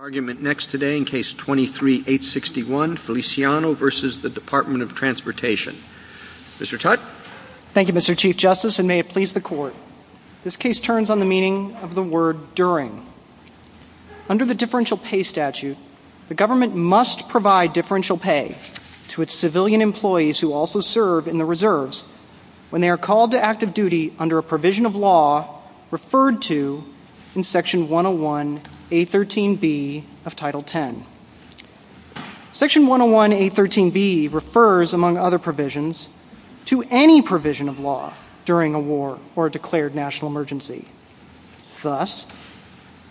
Thank you Mr. Chief Justice and may it please the Court. This case turns on the meaning of the word during. Under the Differential Pay Statute, the government must provide differential pay to its civilian employees who also serve in the Reserves when they are called to active duty under a provision of law referred to in Section 101A.13.B. of the U.S. Constitution. Section 101A.13.B. refers, among other provisions, to any provision of law during a war or declared national emergency. Thus,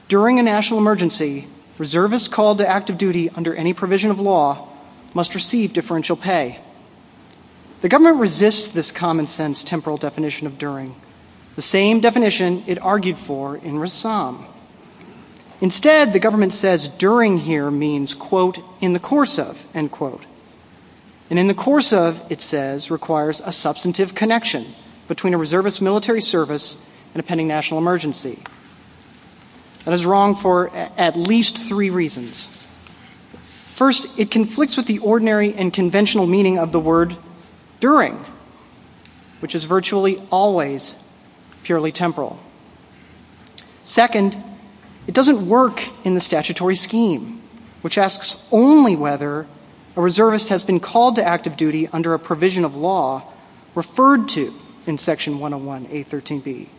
during a national emergency, reservists called to active duty under any provision of law must receive differential pay. The government resists this common sense temporal definition of during, the same definition it argued for in Rassam. Instead, the government says during here means, quote, in the course of, end quote. And in the course of, it says, requires a substantive connection between a reservist's military service and a pending national emergency. That is wrong for at least three reasons. First, it conflicts with the ordinary and conventional meaning of the word during, which is virtually always purely temporal. Second, it doesn't work in the statutory scheme, which asks only whether a reservist has been called to active duty under a provision of law referred to in Section 101A.13.B.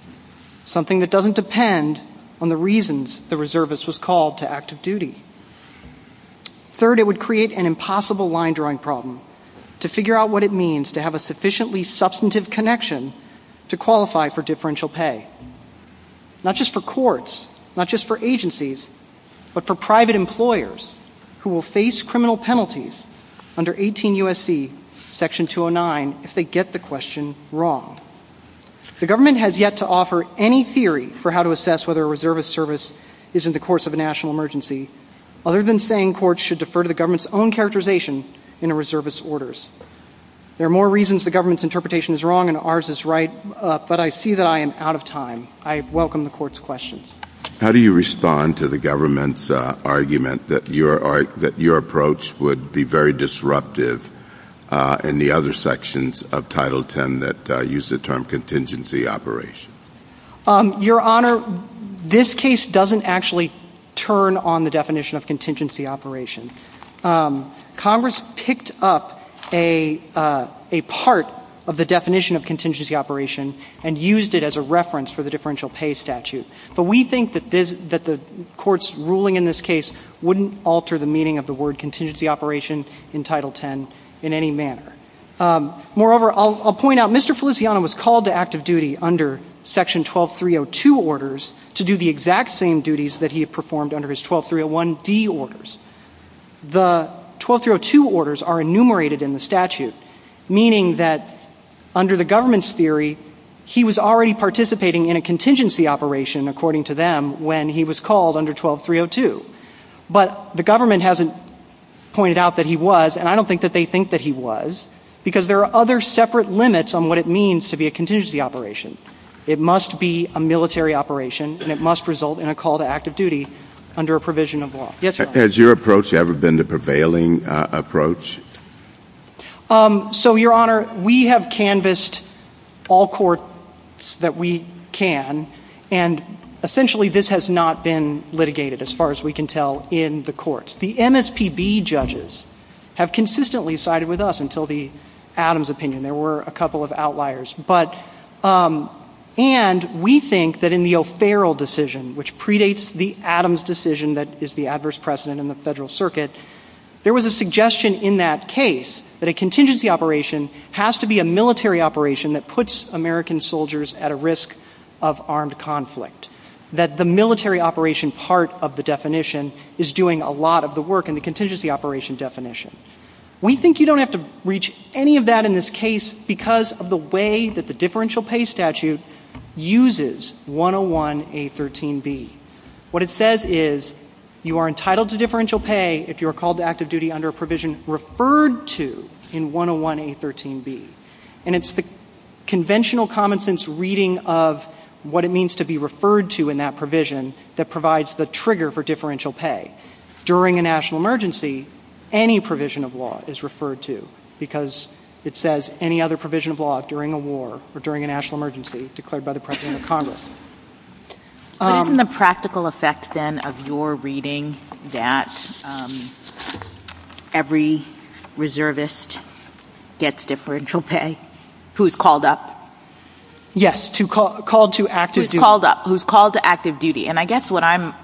Something that doesn't depend on the reasons the reservist was called to active duty. Third, it would create an impossible line drawing problem to figure out what it means to have a sufficiently substantive connection to qualify for differential pay. Not just for courts, not just for agencies, but for private employers who will face criminal penalties under 18 U.S.C. Section 209 if they get the question wrong. The government has yet to offer any theory for how to assess whether a reservist's service is in the course of a national emergency, other than saying courts should defer to the government's own characterization in a reservist's orders. There are more reasons the government's interpretation is wrong and ours is right, but I see that I am out of time. I welcome the court's questions. How do you respond to the government's argument that your approach would be very disruptive in the other sections of Title X that use the term contingency operation? Your Honor, this case doesn't actually turn on the definition of contingency operation. Congress picked up a part of the definition of contingency operation and used it as a reference for the differential pay statute. But we think that the court's ruling in this case wouldn't alter the meaning of the word contingency operation in Title X in any manner. Moreover, I'll point out Mr. Feliciano was called to active duty under Section 12302 orders to do the exact same duties that he had performed under his 12301D orders. The 12302 orders are enumerated in the statute, meaning that under the government's theory, he was already participating in a contingency operation, according to them, when he was called under 12302. But the government hasn't pointed out that he was, and I don't think that they think that he was, because there are other separate limits on what it means to be a contingency operation. It must be a military operation, and it must result in a call to active duty under a provision of law. Has your approach ever been the prevailing approach? So, Your Honor, we have canvassed all courts that we can, and essentially this has not been litigated, as far as we can tell, in the courts. The MSPB judges have consistently sided with us until the Adams opinion. There were a couple of outliers. And we think that in the O'Farrell decision, which predates the Adams decision that is the adverse precedent in the Federal Circuit, there was a suggestion in that case that a contingency operation has to be a military operation that puts American soldiers at a risk of armed conflict. That the military operation part of the definition is doing a lot of the work in the contingency operation definition. We think you don't have to reach any of that in this case because of the way that the differential pay statute uses 101A13B. What it says is you are entitled to differential pay if you are called to active duty under a provision referred to in 101A13B. And it's the conventional common sense reading of what it means to be referred to in that provision that provides the trigger for differential pay. During a national emergency, any provision of law is referred to. Because it says any other provision of law during a war or during a national emergency declared by the President of Congress. Isn't the practical effect then of your reading that every reservist gets differential pay who is called up? Yes, who is called to active duty. And I guess what I'm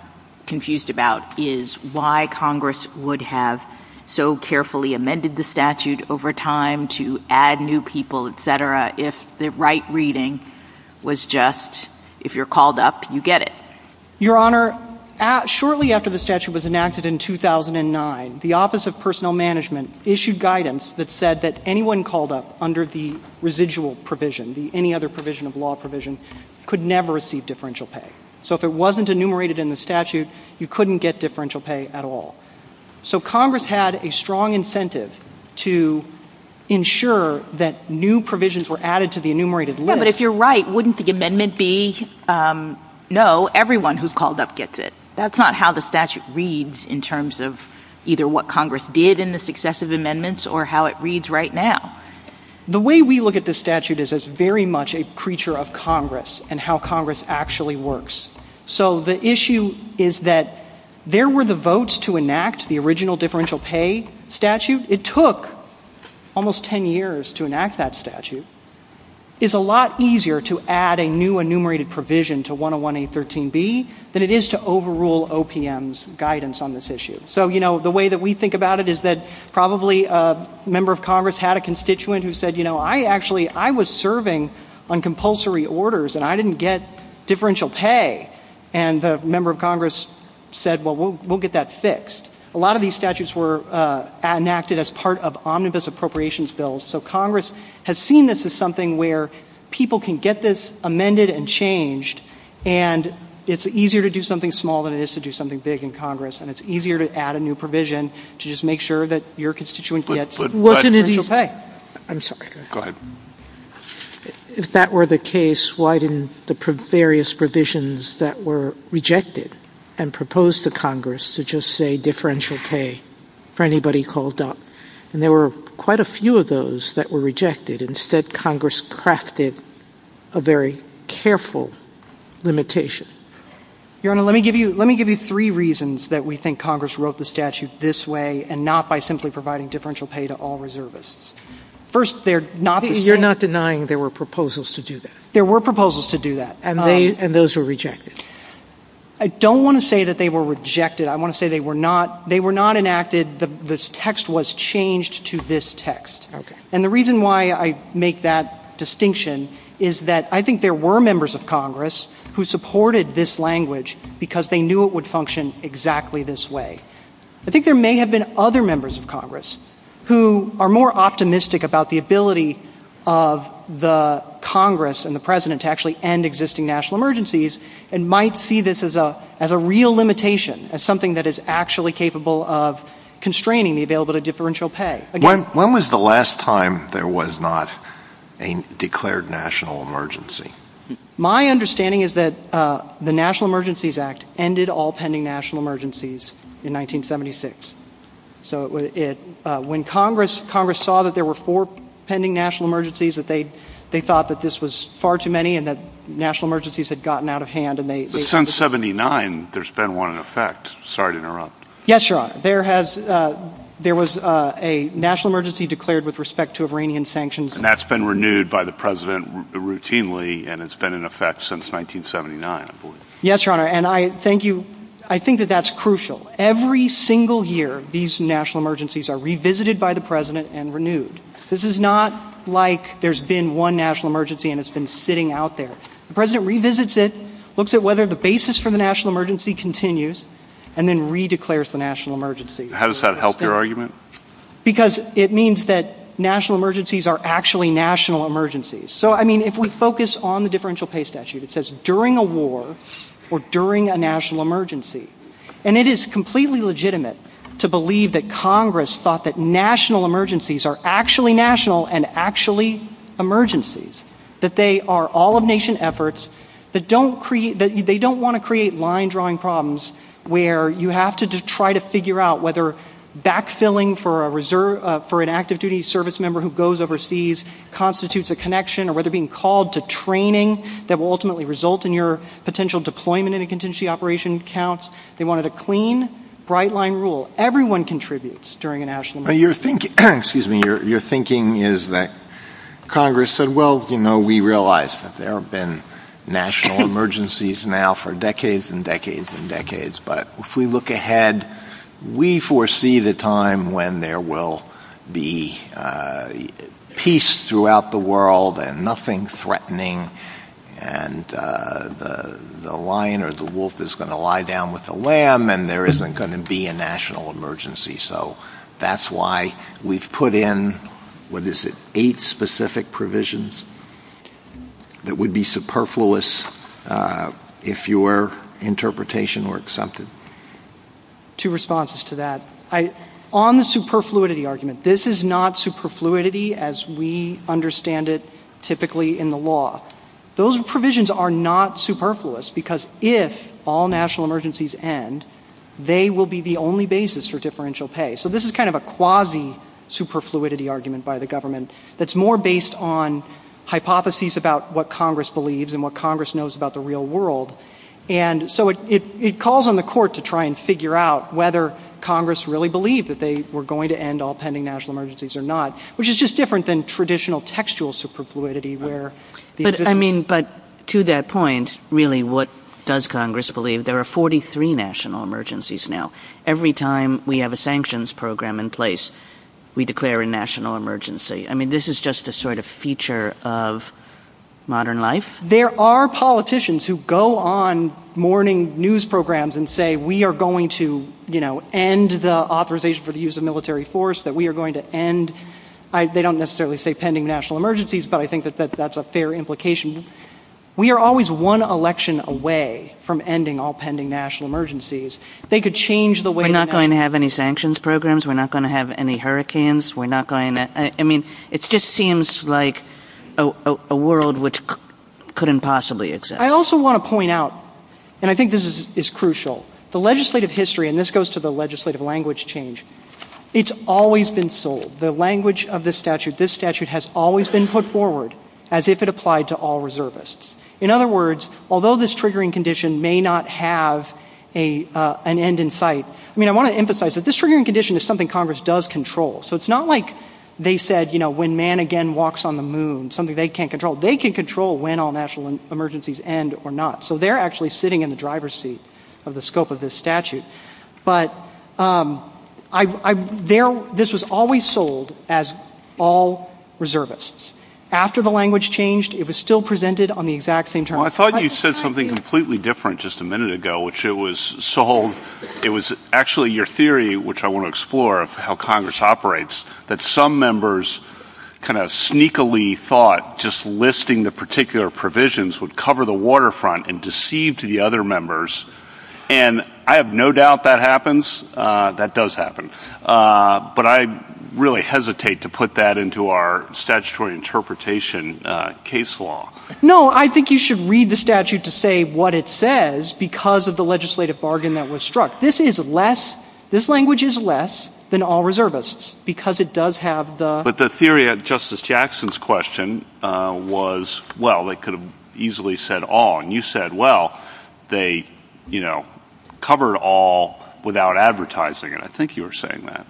confused about is why Congress would have so carefully amended the statute over time to add new people, etc., if the right reading was just if you're called up, you get it. Your Honor, shortly after the statute was enacted in 2009, the Office of Personnel Management issued guidance that said that anyone called up under the residual provision, any other provision of law provision, could never receive differential pay. So if it wasn't enumerated in the statute, you couldn't get differential pay at all. So Congress had a strong incentive to ensure that new provisions were added to the enumerated list. But if you're right, wouldn't the amendment be, no, everyone who's called up gets it? That's not how the statute reads in terms of either what Congress did in the successive amendments or how it reads right now. The way we look at this statute is as very much a preacher of Congress and how Congress actually works. So the issue is that there were the votes to enact the original differential pay statute. It took almost 10 years to enact that statute. It's a lot easier to add a new enumerated provision to 101A13B than it is to overrule OPM's guidance on this issue. So the way that we think about it is that probably a member of Congress had a constituent who said, I actually was serving on compulsory orders and I didn't get differential pay. And the member of Congress said, well, we'll get that fixed. A lot of these statutes were enacted as part of omnibus appropriations bills. So Congress has seen this as something where people can get this amended and changed. And it's easier to do something small than it is to do something big in Congress. And it's easier to add a new provision to just make sure that your constituent gets differential pay. I'm sorry. Go ahead. If that were the case, why didn't the various provisions that were rejected and proposed to Congress to just say differential pay for anybody called up? And there were quite a few of those that were rejected. Instead, Congress crafted a very careful limitation. Your Honor, let me give you three reasons that we think Congress wrote the statute this way and not by simply providing differential pay to all reservists. First, they're not the same. You're not denying there were proposals to do that? There were proposals to do that. And those were rejected? I don't want to say that they were rejected. I want to say they were not enacted. The text was changed to this text. And the reason why I make that distinction is that I think there were members of Congress who supported this language because they knew it would function exactly this way. I think there may have been other members of Congress who are more optimistic about the ability of the Congress and the President to actually end existing national emergencies and might see this as a real limitation, as something that is actually capable of constraining the availability of differential pay. When was the last time there was not a declared national emergency? My understanding is that the National Emergencies Act ended all pending national emergencies in 1976. So when Congress saw that there were four pending national emergencies, they thought that this was far too many and that national emergencies had gotten out of hand. Since 1979, there's been one in effect. Sorry to interrupt. Yes, Your Honor. There was a national emergency declared with respect to Iranian sanctions. And that's been renewed by the President routinely, and it's been in effect since 1979, I believe. Yes, Your Honor. And I think that that's crucial. Every single year, these national emergencies are revisited by the President and renewed. This is not like there's been one national emergency and it's been sitting out there. The President revisits it, looks at whether the basis for the national emergency continues, and then re-declares the national emergency. How does that help your argument? Because it means that national emergencies are actually national emergencies. So, I mean, if we focus on the differential pay statute, it says during a war or during a national emergency. And it is completely legitimate to believe that Congress thought that national emergencies are actually national and actually emergencies. That they are all-of-nation efforts. They don't want to create line-drawing problems where you have to try to figure out whether back-filling for an active-duty service member who goes overseas constitutes a connection or whether being called to training that will ultimately result in your potential deployment in a contingency operation counts. They wanted a clean, bright-line rule. Everyone contributes during a national emergency. Your thinking is that Congress said, well, you know, we realize that there have been national emergencies now for decades and decades and decades. But if we look ahead, we foresee the time when there will be peace throughout the world and nothing threatening. And the lion or the wolf is going to lie down with the lamb and there isn't going to be a national emergency. So that's why we've put in, what is it, eight specific provisions that would be superfluous if your interpretation were accepted. Two responses to that. On the superfluidity argument, this is not superfluidity as we understand it typically in the law. Those provisions are not superfluous because if all national emergencies end, they will be the only basis for differential pay. So this is kind of a quasi-superfluidity argument by the government that's more based on hypotheses about what Congress believes and what Congress knows about the real world. And so it calls on the court to try and figure out whether Congress really believed that they were going to end all pending national emergencies or not, which is just different than traditional textual superfluidity. But to that point, really, what does Congress believe? There are 43 national emergencies now. Every time we have a sanctions program in place, we declare a national emergency. I mean, this is just a sort of feature of modern life. There are politicians who go on morning news programs and say, we are going to end the authorization for the use of military force, that we are going to end. They don't necessarily say pending national emergencies, but I think that that's a fair implication. We are always one election away from ending all pending national emergencies. They could change the way... We're not going to have any sanctions programs. We're not going to have any hurricanes. I mean, it just seems like a world which couldn't possibly exist. I also want to point out, and I think this is crucial, the legislative history, and this goes to the legislative language change, it's always been sold. The language of this statute, this statute has always been put forward as if it applied to all reservists. In other words, although this triggering condition may not have an end in sight, I mean, I want to emphasize that this triggering condition is something Congress does control. So it's not like they said, you know, when man again walks on the moon, something they can't control. They can control when all national emergencies end or not. So they're actually sitting in the driver's seat of the scope of this statute. But this was always sold as all reservists. After the language changed, it was still presented on the exact same terms. Well, I thought you said something completely different just a minute ago, which it was sold. It was actually your theory, which I want to explore, of how Congress operates, that some members kind of sneakily thought just listing the particular provisions would cover the waterfront and deceive to the other members. And I have no doubt that happens. That does happen. But I really hesitate to put that into our statutory interpretation case law. No, I think you should read the statute to say what it says because of the legislative bargain that was struck. This is less, this language is less than all reservists because it does have the... But the theory of Justice Jackson's question was, well, they could have easily said all. And you said, well, they, you know, covered all without advertising it. I think you were saying that.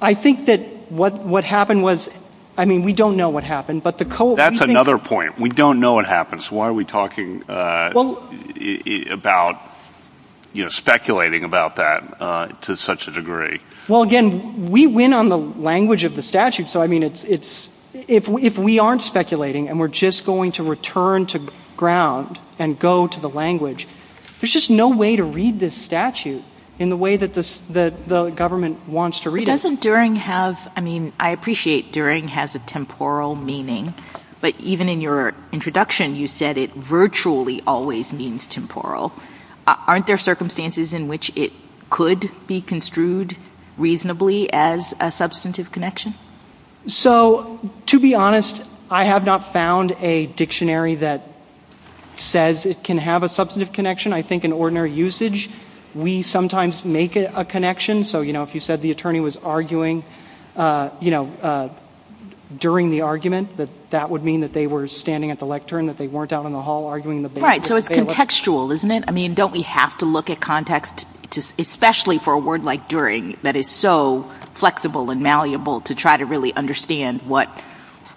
I think that what happened was, I mean, we don't know what happened. That's another point. We don't know what happens. Why are we talking about, you know, speculating about that to such a degree? Well, again, we win on the language of the statute. So, I mean, if we aren't speculating and we're just going to return to ground and go to the language, there's just no way to read this statute in the way that the government wants to read it. Doesn't DURING have, I mean, I appreciate DURING has a temporal meaning, but even in your introduction, you said it virtually always means temporal. Aren't there circumstances in which it could be construed reasonably as a substantive connection? So, to be honest, I have not found a dictionary that says it can have a substantive connection. I think in ordinary usage, we sometimes make a connection. So, you know, if you said the attorney was arguing, you know, during the argument, that that would mean that they were standing at the lectern, that they weren't out in the hall arguing. Right, so it's contextual, isn't it? I mean, don't we have to look at context, especially for a word like DURING, that is so flexible and malleable to try to really understand what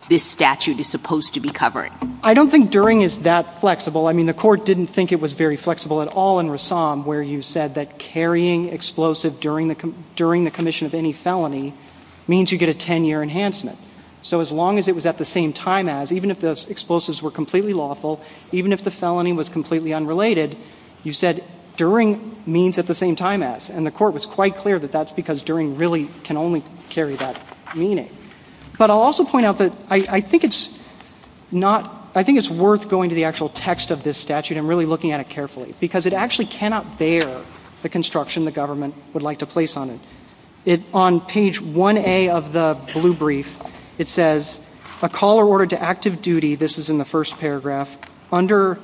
this statute is supposed to be covering? I don't think DURING is that flexible. I mean, the court didn't think it was very flexible at all in Rassam where you said that carrying explosive during the commission of any felony means you get a 10-year enhancement. So as long as it was at the same time as, even if the explosives were completely lawful, even if the felony was completely unrelated, you said DURING means at the same time as, and the court was quite clear that that's because DURING really can only carry that meaning. But I'll also point out that I think it's worth going to the actual text of this statute and really looking at it carefully, because it actually cannot bear the construction the government would like to place on it. On page 1A of the blue brief, it says, a call or order to active duty, this is in the first paragraph, under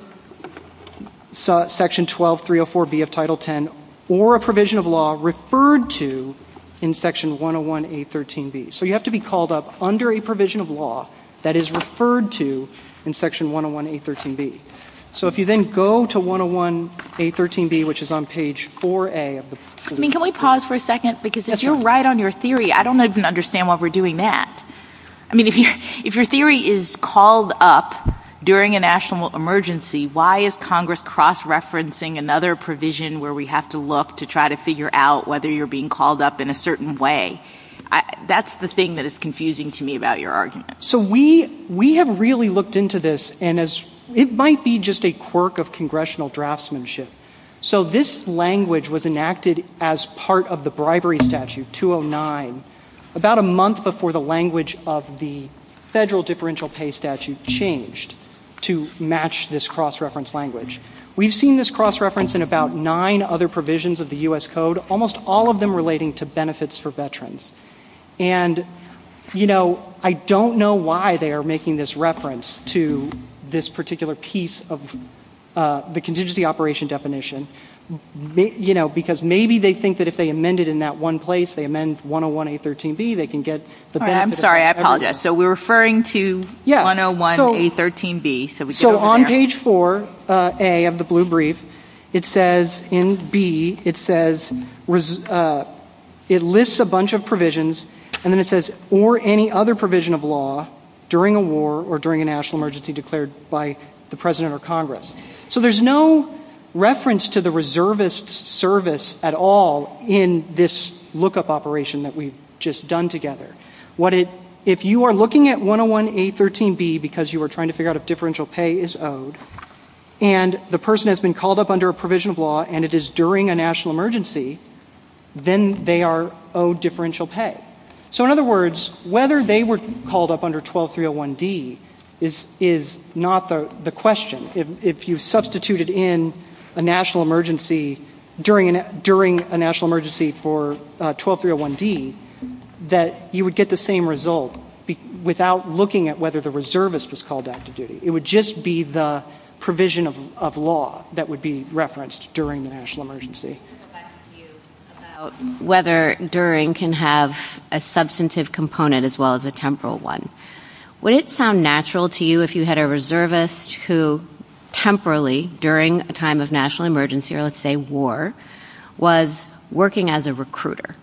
section 12304B of title 10, or a provision of law referred to in section 101A13B. So you have to be called up under a provision of law that is referred to in section 101A13B. So if you then go to 101A13B, which is on page 4A. I mean, can we pause for a second? Because if you're right on your theory, I don't even understand why we're doing that. I mean, if your theory is called up during a national emergency, why is Congress cross-referencing another provision where we have to look to try to figure out whether you're being called up in a certain way? That's the thing that is confusing to me about your argument. So we have really looked into this, and it might be just a quirk of congressional draftsmanship. So this language was enacted as part of the bribery statute, 209, about a month before the language of the federal differential pay statute changed to match this cross-reference language. We've seen this cross-reference in about nine other provisions of the U.S. Code, almost all of them relating to benefits for veterans. And, you know, I don't know why they are making this reference to this particular piece of the contingency operation definition. You know, because maybe they think that if they amend it in that one place, they amend 101A13B, they can get the benefits. I'm sorry, I apologize. So we're referring to 101A13B. So on page 4A of the blue brief, it says in B, it lists a bunch of provisions, and then it says, or any other provision of law during a war or during a national emergency declared by the President or Congress. So there's no reference to the reservist service at all in this lookup operation that we've just done together. If you are looking at 101A13B because you are trying to figure out if differential pay is owed, and the person has been called up under a provision of law and it is during a national emergency, then they are owed differential pay. So in other words, whether they were called up under 12301D is not the question. If you substituted in a national emergency during a national emergency for 12301D, that you would get the same result without looking at whether the reservist was called up to do it. It would just be the provision of law that would be referenced during a national emergency. Whether during can have a substantive component as well as a temporal one. Would it sound natural to you if you had a reservist who temporarily, during a time of national emergency, or let's say war, was working as a recruiter?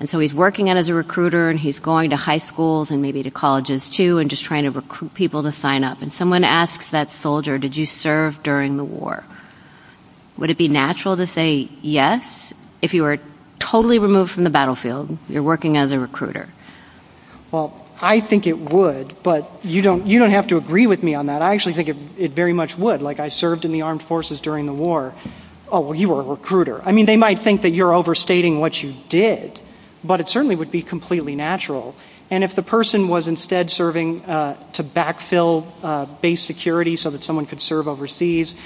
And so he's working as a recruiter and he's going to high schools and maybe to colleges, too, and just trying to recruit people to sign up. And someone asks that soldier, did you serve during the war? Would it be natural to say yes if you were totally removed from the battlefield, you're working as a recruiter? Well, I think it would, but you don't have to agree with me on that. I actually think it very much would. Like, I served in the armed forces during the war. Oh, well, you were a recruiter. I mean, they might think that you're overstating what you did, but it certainly would be completely natural. And if the person was instead serving to backfill base security so that someone could serve overseas,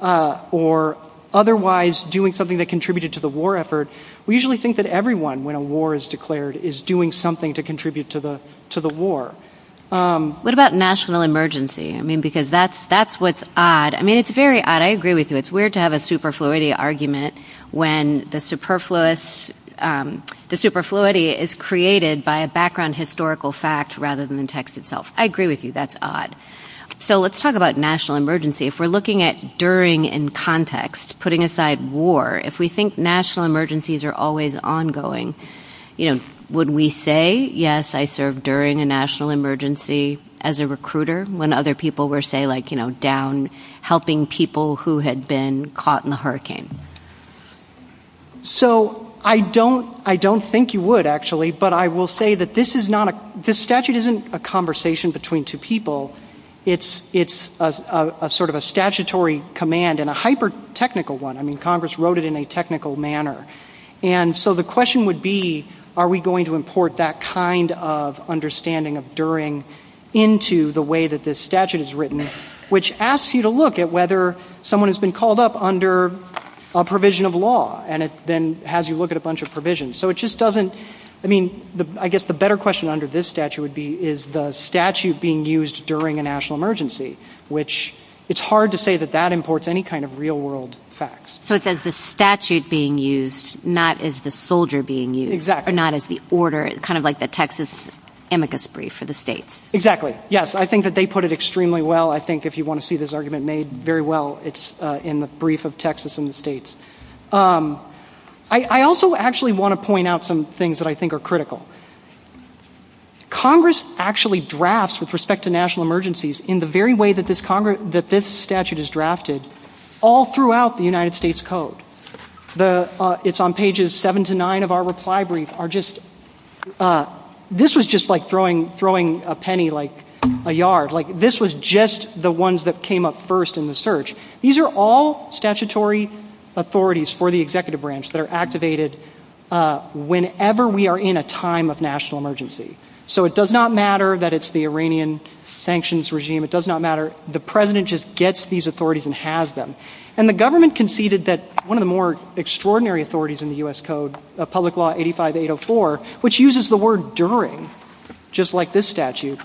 or otherwise doing something that contributed to the war effort, we usually think that everyone, when a war is declared, is doing something to contribute to the war. What about national emergency? I mean, because that's what's odd. I mean, it's very odd. I agree with you. It's weird to have a superfluity argument when the superfluity is created by a background historical fact rather than the text itself. I agree with you. That's odd. So let's talk about national emergency. If we're looking at during in context, putting aside war, if we think national emergencies are always ongoing, would we say, yes, I served during a national emergency as a recruiter, when other people were, say, down helping people who had been caught in the hurricane? So I don't think you would, actually, but I will say that this statute isn't a conversation between two people. It's sort of a statutory command and a hyper-technical one. I mean, Congress wrote it in a technical manner. And so the question would be, are we going to import that kind of understanding of during into the way that this statute is written, which asks you to look at whether someone has been called up under a provision of law, and it then has you look at a bunch of provisions. So it just doesn't, I mean, I guess the better question under this statute would be, is the statute being used during a national emergency, which it's hard to say that that imports any kind of real world facts. So it's as the statute being used, not as the soldier being used. Exactly. Not as the order, kind of like the Texas amicus brief for the states. Exactly. Yes, I think that they put it extremely well. I think if you want to see this argument made very well, it's in the brief of Texas and the states. I also actually want to point out some things that I think are critical. Congress actually drafts, with respect to national emergencies, in the very way that this statute is drafted, all throughout the United States Code. It's on pages seven to nine of our reply brief. This was just like throwing a penny, like a yard. This was just the ones that came up first in the search. These are all statutory authorities for the executive branch that are activated whenever we are in a time of national emergency. So it does not matter that it's the Iranian sanctions regime. It does not matter. The president just gets these authorities and has them. And the government conceded that one of the more extraordinary authorities in the U.S. Code, public law 85804, which uses the word during, just like this statute,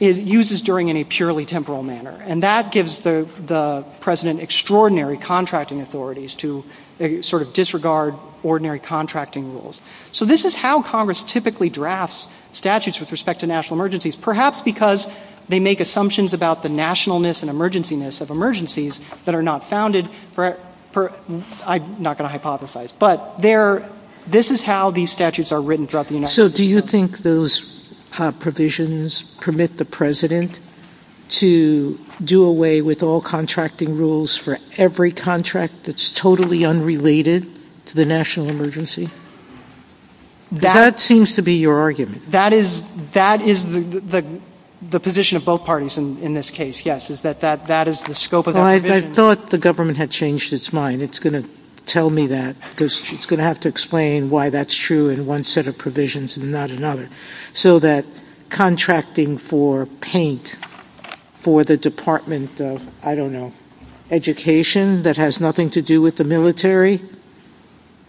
uses during in a purely temporal manner. And that gives the president extraordinary contracting authorities to sort of disregard ordinary contracting rules. So this is how Congress typically drafts statutes with respect to national emergencies, perhaps because they make assumptions about the nationalness and emergency-ness of emergencies that are not founded. I'm not going to hypothesize. But this is how these statutes are written throughout the United States. So do you think those provisions permit the president to do away with all contracting rules for every contract that's totally unrelated to the national emergency? That seems to be your argument. That is the position of both parties in this case, yes, is that that is the scope of the provision. I thought the government had changed its mind. It's going to tell me that because it's going to have to explain why that's true in one set of provisions and not another. So that contracting for paint for the Department of, I don't know, education that has nothing to do with the military,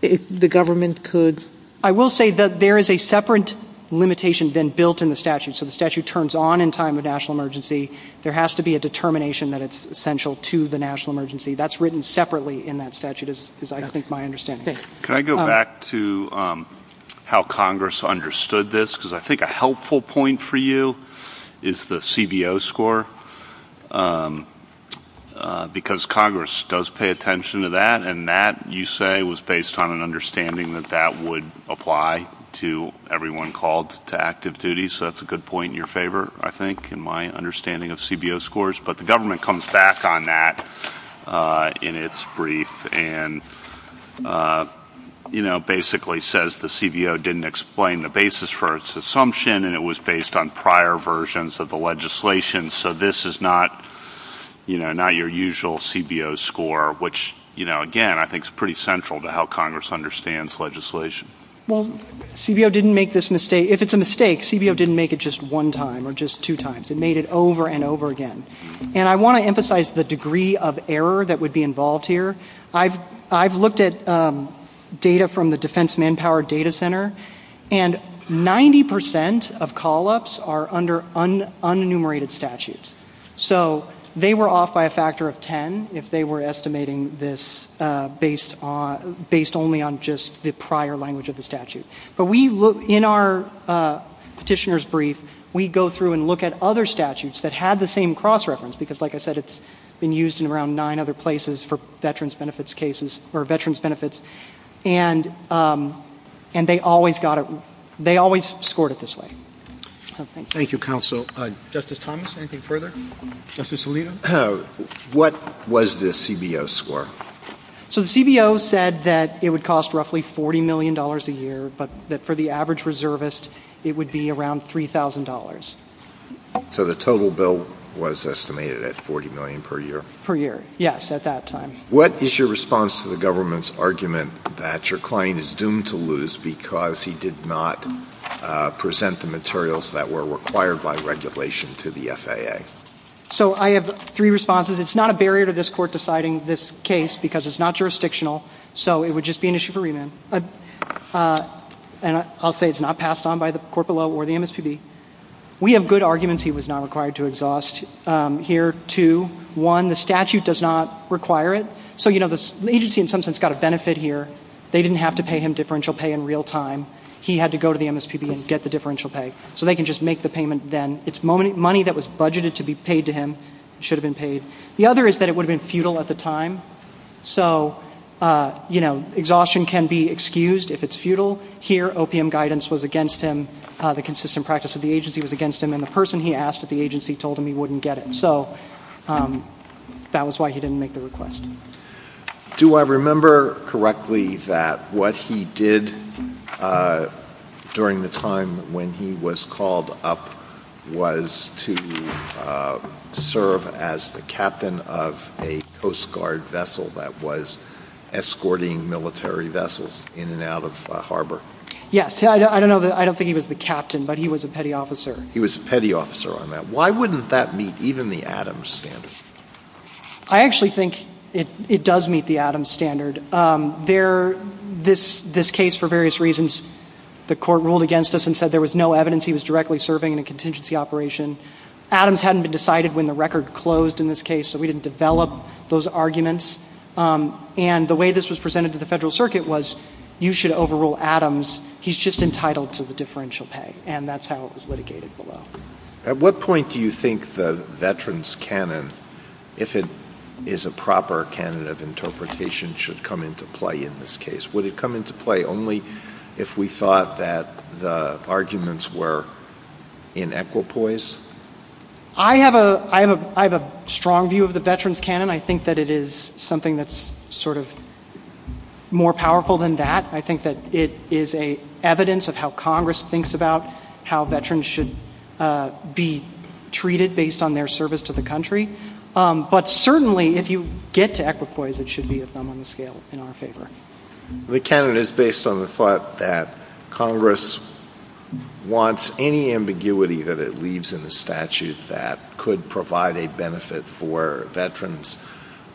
if the government could. I will say that there is a separate limitation then built in the statute. So the statute turns on in time of national emergency. There has to be a determination that it's essential to the national emergency. That's written separately in that statute, as I think my understanding is. Can I go back to how Congress understood this? Because I think a helpful point for you is the CBO score, because Congress does pay attention to that, and that, you say, was based on an understanding that that would apply to everyone called to active duty. So that's a good point in your favor, I think, in my understanding of CBO scores. But the government comes back on that in its brief and, you know, basically says the CBO didn't explain the basis for its assumption, and it was based on prior versions of the legislation. So this is not, you know, not your usual CBO score, which, you know, again, I think is pretty central to how Congress understands legislation. Well, CBO didn't make this mistake. If it's a mistake, CBO didn't make it just one time or just two times. It made it over and over again. And I want to emphasize the degree of error that would be involved here. I've looked at data from the Defense Manpower Data Center, and 90% of call-ups are under unenumerated statutes. So they were off by a factor of 10 if they were estimating this based only on just the prior language of the statute. But we look in our petitioner's brief, we go through and look at other statutes that had the same cross-reference, because, like I said, it's been used in around nine other places for veterans' benefits cases or veterans' benefits, and they always scored it this way. Thank you, Counsel. Justice Thomas, anything further? Justice Alito? What was the CBO score? So the CBO said that it would cost roughly $40 million a year, but that for the average reservist, it would be around $3,000. So the total bill was estimated at $40 million per year? Per year, yes, at that time. What is your response to the government's argument that your client is doomed to lose because he did not present the materials that were required by regulation to the FAA? So I have three responses. It's not a barrier to this Court deciding this case because it's not jurisdictional, so it would just be an issue for remand. And I'll say it's not passed on by the Corporate Law or the MSPB. We have good arguments he was not required to exhaust here, too. One, the statute does not require it. So, you know, the agency in some sense got a benefit here. They didn't have to pay him differential pay in real time. He had to go to the MSPB and get the differential pay, so they can just make the payment then. It's money that was budgeted to be paid to him. It should have been paid. The other is that it would have been futile at the time. So, you know, exhaustion can be excused if it's futile. Here, opium guidance was against him. The consistent practice of the agency was against him, and the person he asked at the agency told him he wouldn't get it. So that was why he didn't make the request. Do I remember correctly that what he did during the time when he was called up was to serve as the captain of a Coast Guard vessel that was escorting military vessels in and out of harbor? Yes. I don't think he was the captain, but he was a petty officer. He was a petty officer on that. Why wouldn't that meet even the Adams standard? I actually think it does meet the Adams standard. This case, for various reasons, the court ruled against us and said there was no evidence he was directly serving in a contingency operation. Adams hadn't been decided when the record closed in this case, so we didn't develop those arguments. And the way this was presented to the Federal Circuit was, you should overrule Adams. He's just entitled to the differential pay, and that's how it was litigated below. At what point do you think the veterans' canon, if it is a proper canon of interpretation, should come into play in this case? Would it come into play only if we thought that the arguments were in equipoise? I have a strong view of the veterans' canon. I think that it is something that's sort of more powerful than that. I think that it is evidence of how Congress thinks about how veterans should be treated based on their service to the country. But certainly, if you get to equipoise, it should be at nominal scale in our favor. The canon is based on the thought that Congress wants any ambiguity that it leaves in the statute that could provide a benefit for veterans,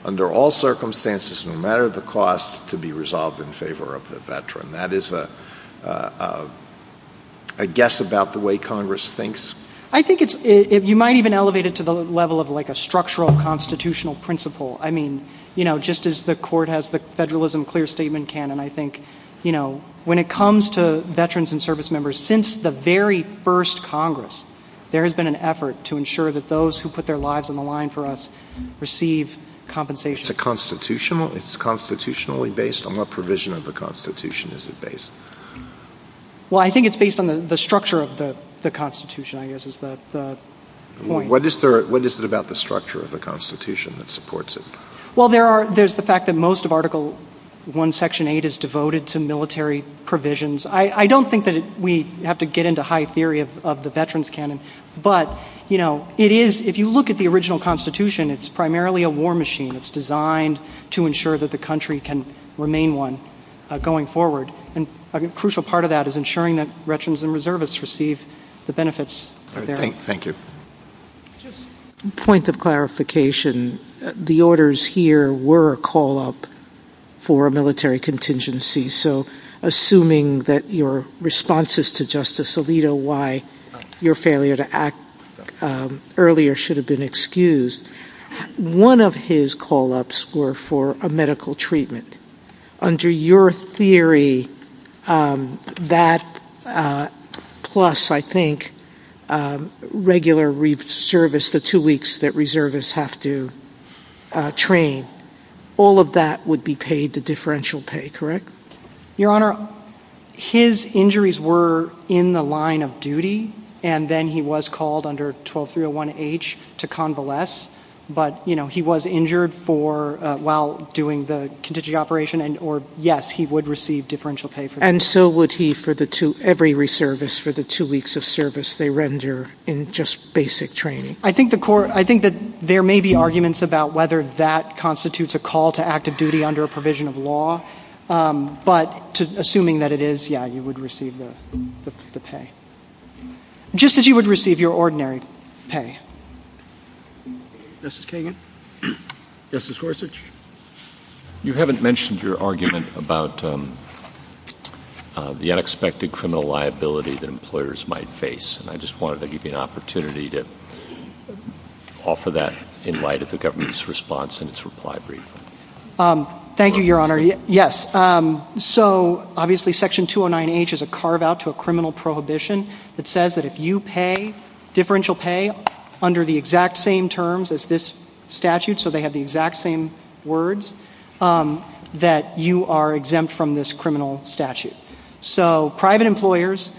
under all circumstances and no matter the cost, to be resolved in favor of the veteran. That is, I guess, about the way Congress thinks. I think you might even elevate it to the level of like a structural constitutional principle. I mean, you know, just as the Court has the federalism clear statement canon, I think, you know, when it comes to veterans and service members, since the very first Congress, there has been an effort to ensure that those who put their lives on the line for us receive compensation. It's constitutionally based? On what provision of the Constitution is it based? Well, I think it's based on the structure of the Constitution, I guess, is the point. What is it about the structure of the Constitution that supports it? Well, there's the fact that most of Article I, Section 8 is devoted to military provisions. I don't think that we have to get into high theory of the veterans canon. But, you know, it is, if you look at the original Constitution, it's primarily a war machine. It's designed to ensure that the country can remain one going forward. And a crucial part of that is ensuring that veterans and reservists receive the benefits. Thank you. Point of clarification, the orders here were a call up for a military contingency. So assuming that your responses to Justice Alito, why your failure to act earlier should have been excused. One of his call ups were for a medical treatment. Under your theory, that plus, I think, regular service, the two weeks that reservists have to train, all of that would be paid to differential pay, correct? Your Honor, his injuries were in the line of duty, and then he was called under 12301H to convalesce. But, you know, he was injured while doing the contingency operation. And, yes, he would receive differential pay for that. And still would he for every reservist for the two weeks of service they render in just basic training? I think that there may be arguments about whether that constitutes a call to active duty under a provision of law. But assuming that it is, yeah, you would receive the pay. Just as you would receive your ordinary pay. Justice Kagan? Justice Gorsuch? You haven't mentioned your argument about the unexpected criminal liability that employers might face. And I just wanted to give you an opportunity to offer that in light of the government's response in its reply brief. Thank you, Your Honor. Yes. So, obviously, Section 209H is a carve-out to a criminal prohibition that says that if you pay differential pay under the exact same terms as this statute, so they have the exact same words, that you are exempt from this criminal statute. So private employers,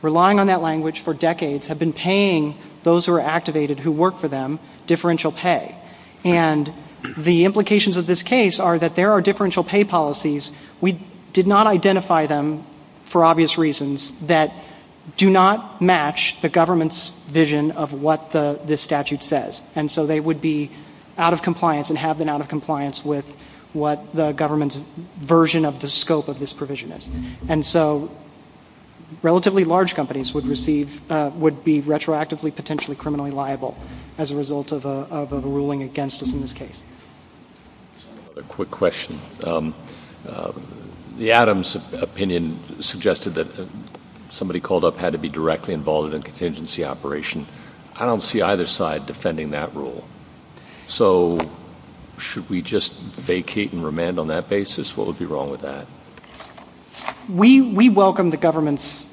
relying on that language for decades, have been paying those who are activated who work for them differential pay. And the implications of this case are that there are differential pay policies. We did not identify them for obvious reasons that do not match the government's vision of what this statute says. And so they would be out of compliance and have been out of compliance with what the government's version of the scope of this provision is. And so relatively large companies would be retroactively potentially criminally liable as a result of a ruling against us in this case. A quick question. The Adams opinion suggested that somebody called up had to be directly involved in a contingency operation. I don't see either side defending that rule. So should we just vacate and remand on that basis? What would be wrong with that? We welcome the government's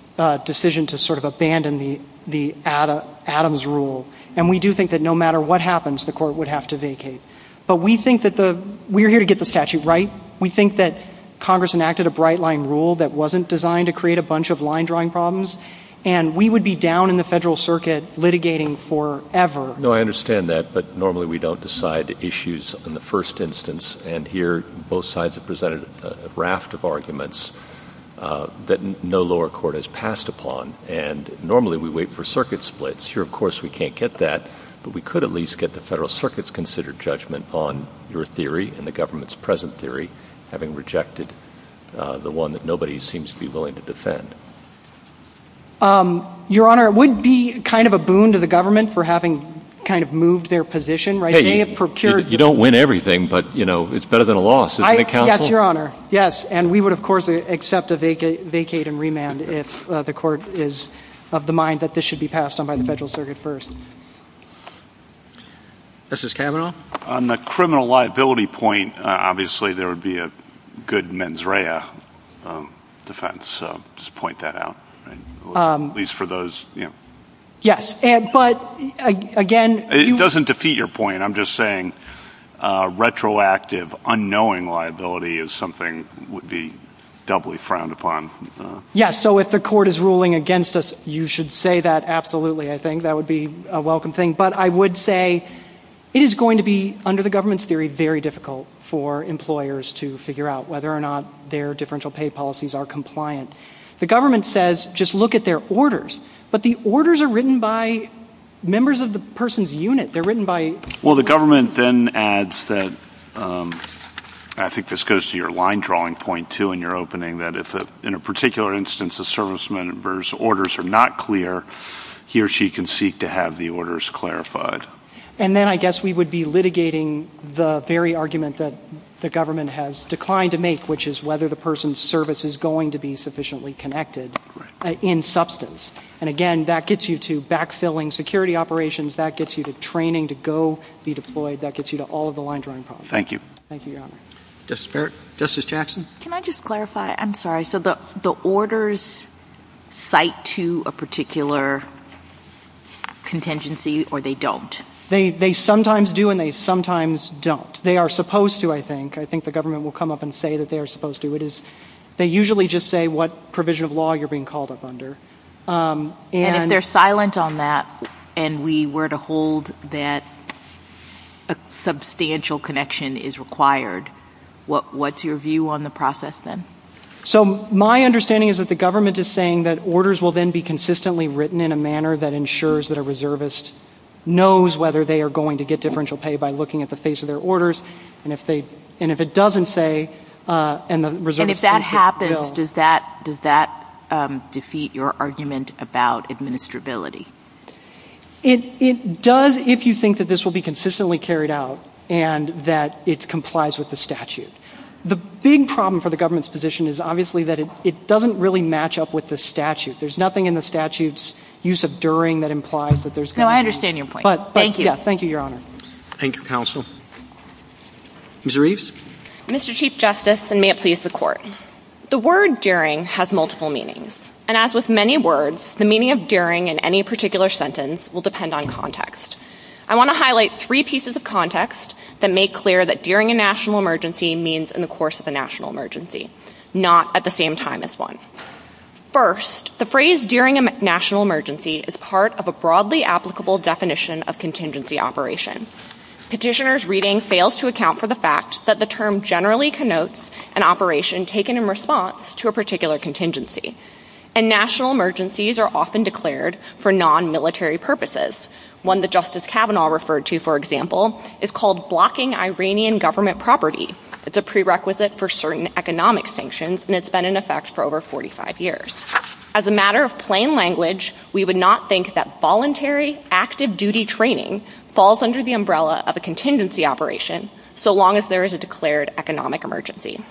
decision to sort of abandon the Adams rule. And we do think that no matter what happens, the court would have to vacate. But we think that we are here to get the statute right. We think that Congress enacted a bright-line rule that wasn't designed to create a bunch of line-drawing problems. And we would be down in the Federal Circuit litigating forever. No, I understand that. But normally we don't decide issues in the first instance. And here both sides have presented a raft of arguments that no lower court has passed upon. And normally we wait for circuit splits. Here, of course, we can't get that. But we could at least get the Federal Circuit's considered judgment on your theory and the government's present theory, having rejected the one that nobody seems to be willing to defend. Your Honor, it would be kind of a boon to the government for having kind of moved their position, right? Hey, you don't win everything, but, you know, it's better than a loss. Yes, Your Honor, yes. And we would, of course, accept a vacate and remand if the court is of the mind that this should be passed on by the Federal Circuit first. Justice Kavanaugh? On the criminal liability point, obviously there would be a good mens rea defense, so just point that out. At least for those, you know. Yes, but again. It doesn't defeat your point. I'm just saying retroactive, unknowing liability is something that would be doubly frowned upon. Yes, so if the court is ruling against us, you should say that absolutely. I think that would be a welcome thing. But I would say it is going to be, under the government's theory, very difficult for employers to figure out whether or not their differential pay policies are compliant. The government says just look at their orders, but the orders are written by members of the person's unit. They're written by... Well, the government then adds that, I think this goes to your line drawing point, too, in your opening, that if in a particular instance a serviceman's orders are not clear, he or she can seek to have the orders clarified. And then I guess we would be litigating the very argument that the government has declined to make, which is whether the person's service is going to be sufficiently connected in substance. And again, that gets you to backfilling security operations. That gets you to training to go be deployed. That gets you to all of the line drawing points. Thank you. Thank you, Your Honor. Justice Jackson? Can I just clarify? I'm sorry. So the orders cite to a particular contingency or they don't? They sometimes do and they sometimes don't. They are supposed to, I think. I think the government will come up and say that they are supposed to. They usually just say what provision of law you're being called up under. And if they're silent on that and we were to hold that a substantial connection is required, what's your view on the process then? So my understanding is that the government is saying that orders will then be consistently written in a manner that ensures that a reservist knows whether they are going to get differential pay by looking at the face of their orders. And if it doesn't say, and the reservist... And if that happens, does that defeat your argument about administrability? It does if you think that this will be consistently carried out and that it complies with the statute. The big problem for the government's position is obviously that it doesn't really match up with the statute. There's nothing in the statute's use of during that implies that there's going to be... No, I understand your point. Thank you. Thank you, Your Honor. Thank you, Counsel. Ms. Reeves? Mr. Chief Justice, and may it please the Court. The word during has multiple meanings. And as with many words, the meaning of during in any particular sentence will depend on context. I want to highlight three pieces of context that make clear that during a national emergency means in the course of a national emergency, not at the same time as one. First, the phrase during a national emergency is part of a broadly applicable definition of contingency operation. Petitioner's reading fails to account for the fact that the term generally connotes an operation taken in response to a particular contingency. And national emergencies are often declared for non-military purposes. One that Justice Kavanaugh referred to, for example, is called blocking Iranian government property. It's a prerequisite for certain economic sanctions, and it's been in effect for over 45 years. As a matter of plain language, we would not think that voluntary active-duty training falls under the umbrella of a contingency operation, so long as there is a declared economic emergency.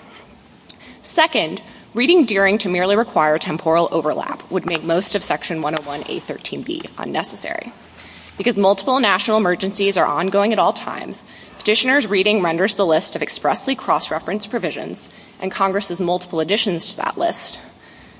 Second, reading during to merely require temporal overlap would make most of Section 101A.13b unnecessary. Because multiple national emergencies are ongoing at all times, petitioner's reading renders the list of expressly cross-referenced provisions and Congress's multiple additions to that list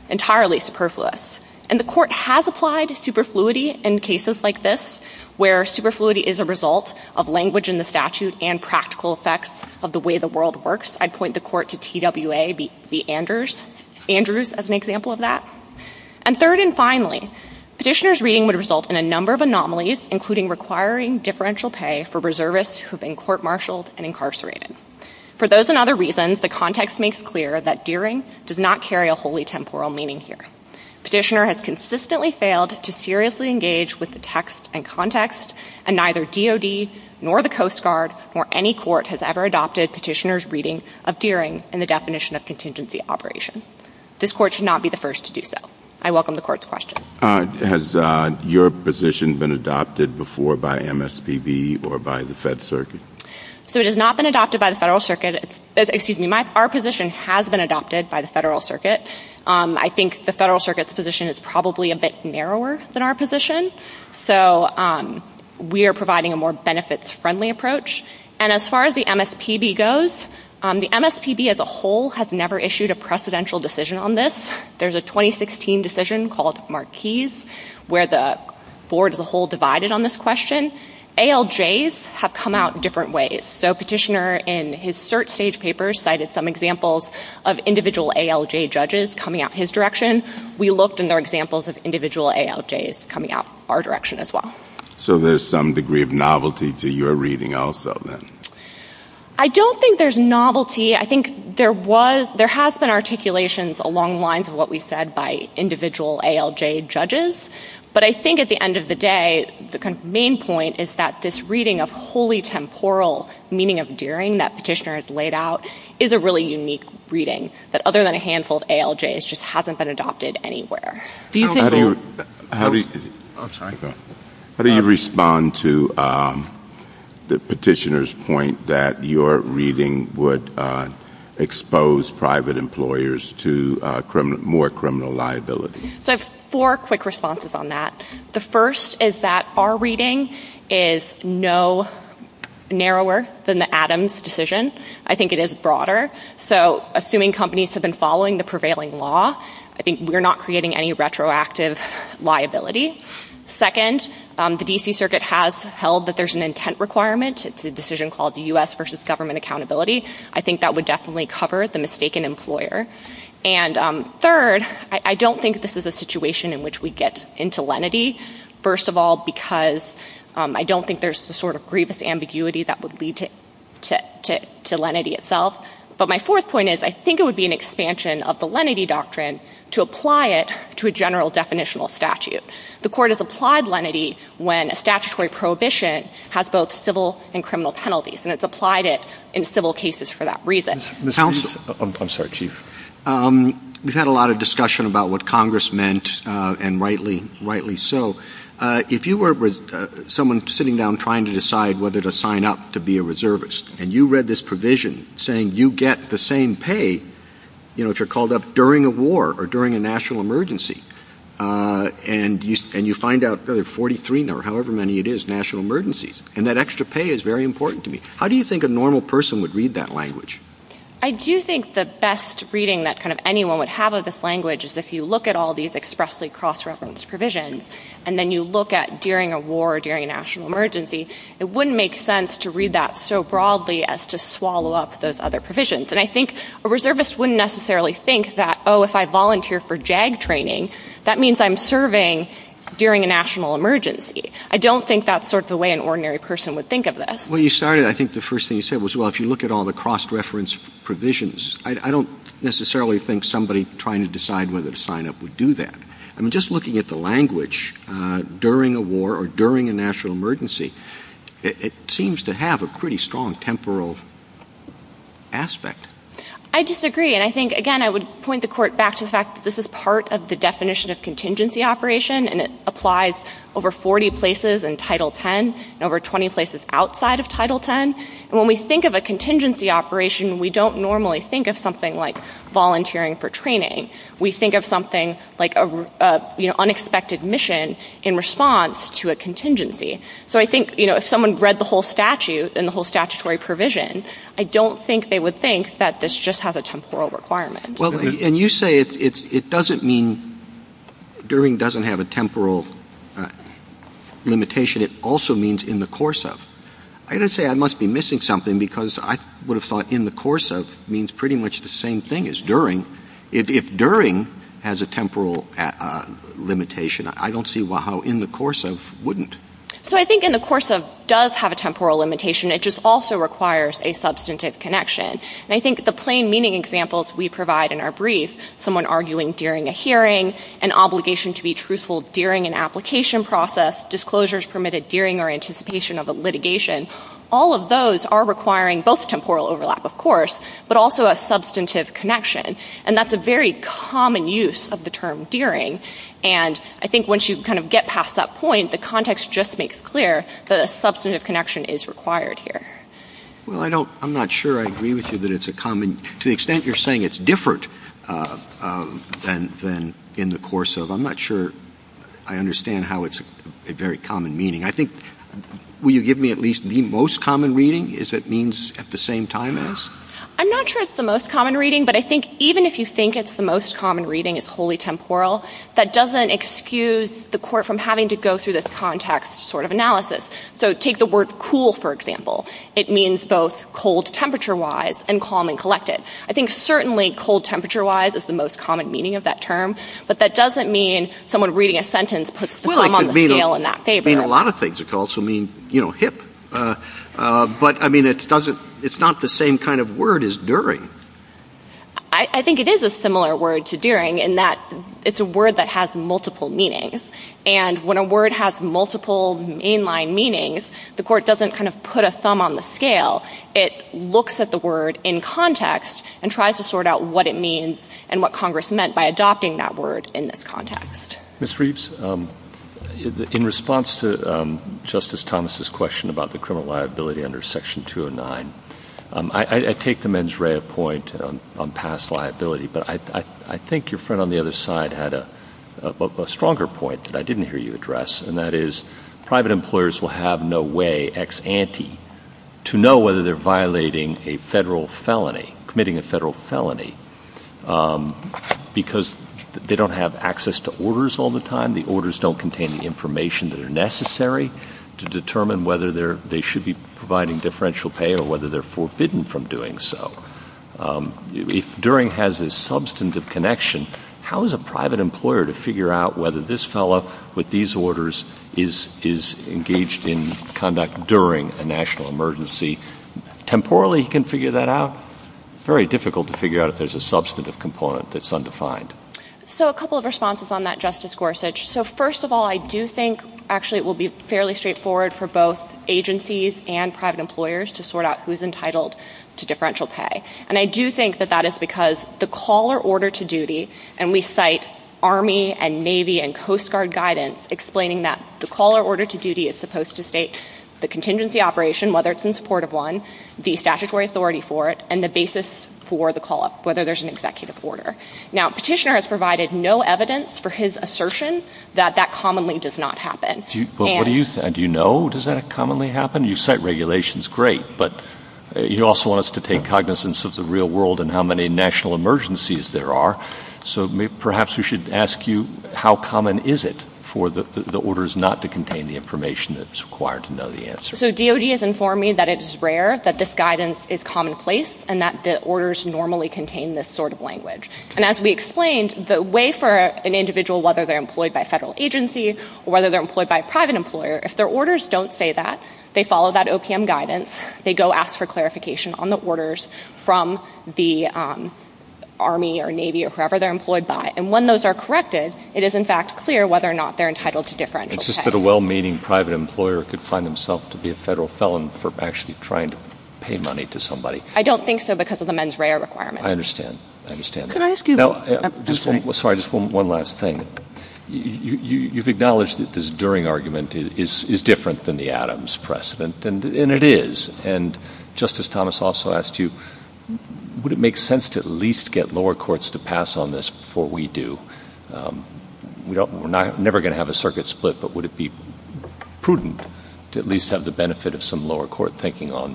entirely superfluous. And the Court has applied superfluity in cases like this, where superfluity is a result of language in the statute and practical effects of the way the world works. I'd point the Court to TWA v. Andrews as an example of that. And third and finally, petitioner's reading would result in a number of anomalies, including requiring differential pay for reservists who have been court-martialed and incarcerated. For those and other reasons, the context makes clear that deering does not carry a wholly temporal meaning here. Petitioner has consistently failed to seriously engage with the text and context, and neither DOD nor the Coast Guard nor any court has ever adopted petitioner's reading of deering in the definition of contingency operation. This Court should not be the first to do so. I welcome the Court's question. Has your position been adopted before by MSPB or by the Fed Circuit? It has not been adopted by the Federal Circuit. Our position has been adopted by the Federal Circuit. I think the Federal Circuit's position is probably a bit narrower than our position. So we are providing a more benefits-friendly approach. And as far as the MSPB goes, the MSPB as a whole has never issued a precedential decision on this. There's a 2016 decision called Marquise, where the Board as a whole divided on this question. ALJs have come out in different ways. So Petitioner, in his cert stage papers, cited some examples of individual ALJ judges coming out his direction. We looked and there are examples of individual ALJs coming out our direction as well. So there's some degree of novelty to your reading also then? I don't think there's novelty. I think there has been articulations along the lines of what we said by individual ALJ judges. But I think at the end of the day, the main point is that this reading of wholly temporal meaning of dearing that Petitioner has laid out is a really unique reading. But other than a handful of ALJs, it just hasn't been adopted anywhere. How do you respond to Petitioner's point that your reading would expose private employers to more criminal liability? I have four quick responses on that. The first is that our reading is no narrower than the Adams decision. I think it is broader. So assuming companies have been following the prevailing law, I think we're not creating any retroactive liability. Second, the D.C. Circuit has held that there's an intent requirement. It's a decision called the U.S. versus government accountability. I think that would definitely cover the mistaken employer. And third, I don't think this is a situation in which we get into lenity. First of all, because I don't think there's the sort of grievous ambiguity that would lead to lenity itself. But my fourth point is I think it would be an expansion of the lenity doctrine to apply it to a general definitional statute. The court has applied lenity when a statutory prohibition has both civil and criminal penalties. And it's applied it in civil cases for that reason. I'm sorry, Chief. We've had a lot of discussion about what Congress meant, and rightly so. If you were with someone sitting down trying to decide whether to sign up to be a reservist, and you read this provision saying you get the same pay, you know, if you're called up during a war or during a national emergency, and you find out there are 43 or however many it is national emergencies, and that extra pay is very important to me, how do you think a normal person would read that language? I do think the best reading that kind of anyone would have of this language is if you look at all these expressly cross-referenced provisions, and then you look at during a war or during a national emergency, it wouldn't make sense to read that so broadly as to swallow up those other provisions. And I think a reservist wouldn't necessarily think that, oh, if I volunteer for JAG training, that means I'm serving during a national emergency. I don't think that's sort of the way an ordinary person would think of this. Well, you started, I think the first thing you said was, well, if you look at all the cross-referenced provisions, I don't necessarily think somebody trying to decide whether to sign up would do that. I mean, just looking at the language, during a war or during a national emergency, it seems to have a pretty strong temporal aspect. I disagree, and I think, again, I would point the court back to the fact that this is part of the definition of contingency operation, and it applies over 40 places in Title X and over 20 places outside of Title X. And when we think of a contingency operation, we don't normally think of something like volunteering for training. We think of something like an unexpected mission in response to a contingency. So I think if someone read the whole statute and the whole statutory provision, I don't think they would think that this just has a temporal requirement. Well, and you say it doesn't mean during doesn't have a temporal limitation. It also means in the course of. I didn't say I must be missing something because I would have thought in the course of means pretty much the same thing as during. If during has a temporal limitation, I don't see how in the course of wouldn't. So I think in the course of does have a temporal limitation. It just also requires a substantive connection. And I think the plain meaning examples we provide in our brief, someone arguing during a hearing, an obligation to be truthful during an application process, disclosures permitted during or anticipation of a litigation, all of those are requiring both temporal overlap, of course, but also a substantive connection. And that's a very common use of the term during. And I think once you kind of get past that point, the context just makes clear that a substantive connection is required here. Well, I don't, I'm not sure I agree with you that it's a common, to the extent you're saying it's different than in the course of, I'm not sure I understand how it's a very common meaning. I think, will you give me at least the most common reading is that means at the same time as? I'm not sure it's the most common reading, but I think even if you think it's the most common reading, it's wholly temporal, that doesn't excuse the court from having to go through this context sort of analysis. So take the word cool, for example. It means both cold temperature-wise and calm and collected. I think certainly cold temperature-wise is the most common meaning of that term, but that doesn't mean someone reading a sentence puts the thumb on the scale in that favor. Well, it could mean a lot of things. It could also mean, you know, hip. But, I mean, it's not the same kind of word as during. I think it is a similar word to during in that it's a word that has multiple meanings. And when a word has multiple mainline meanings, the court doesn't kind of put a thumb on the scale. It looks at the word in context and tries to sort out what it means and what Congress meant by adopting that word in this context. Ms. Reeves, in response to Justice Thomas' question about the criminal liability under Section 209, I take the mens rea point on past liability, but I think your friend on the other side had a stronger point that I didn't hear you address, and that is private employers will have no way ex ante to know whether they're violating a federal felony, committing a federal felony, because they don't have access to orders all the time. The orders don't contain the information that are necessary to determine whether they should be providing differential pay or whether they're forbidden from doing so. If during has a substantive connection, how is a private employer to figure out whether this fellow with these orders is engaged in conduct during a national emergency? Temporally he can figure that out. It's very difficult to figure out if there's a substantive component that's undefined. So a couple of responses on that, Justice Gorsuch. So first of all, I do think actually it will be fairly straightforward for both agencies and private employers to sort out who's entitled to differential pay. And I do think that that is because the call or order to duty, and we cite Army and Navy and Coast Guard guidance explaining that the call or order to duty is supposed to state the contingency operation, whether it's in support of one, the statutory authority for it, and the basis for the call-up, whether there's an executive order. Now, Petitioner has provided no evidence for his assertion that that commonly does not happen. Well, what do you think? Do you know? Does that commonly happen? You cite regulations, great, but you also want us to take cognizance of the real world and how many national emergencies there are. So perhaps we should ask you, how common is it for the orders not to contain the information that's required to know the answer? So DOD has informed me that it is rare that this guidance is commonplace and that the orders normally contain this sort of language. And as we explained, the way for an individual, whether they're employed by a federal agency or whether they're employed by a private employer, if their orders don't say that, they follow that OPM guidance, they go ask for clarification on the orders from the Army or Navy or whoever they're employed by. And when those are corrected, it is, in fact, clear whether or not they're entitled to differential pay. It's just that a well-meaning private employer could find himself to be a federal felon for actually trying to pay money to somebody. I don't think so because of the mens rea requirement. I understand. I understand. Can I ask you... Sorry, just one last thing. You've acknowledged that this during argument is different than the Adams precedent, and it is, and Justice Thomas also asked you, would it make sense to at least get lower courts to pass on this before we do? We're never going to have a circuit split, but would it be prudent to at least have the benefit of some lower court thinking on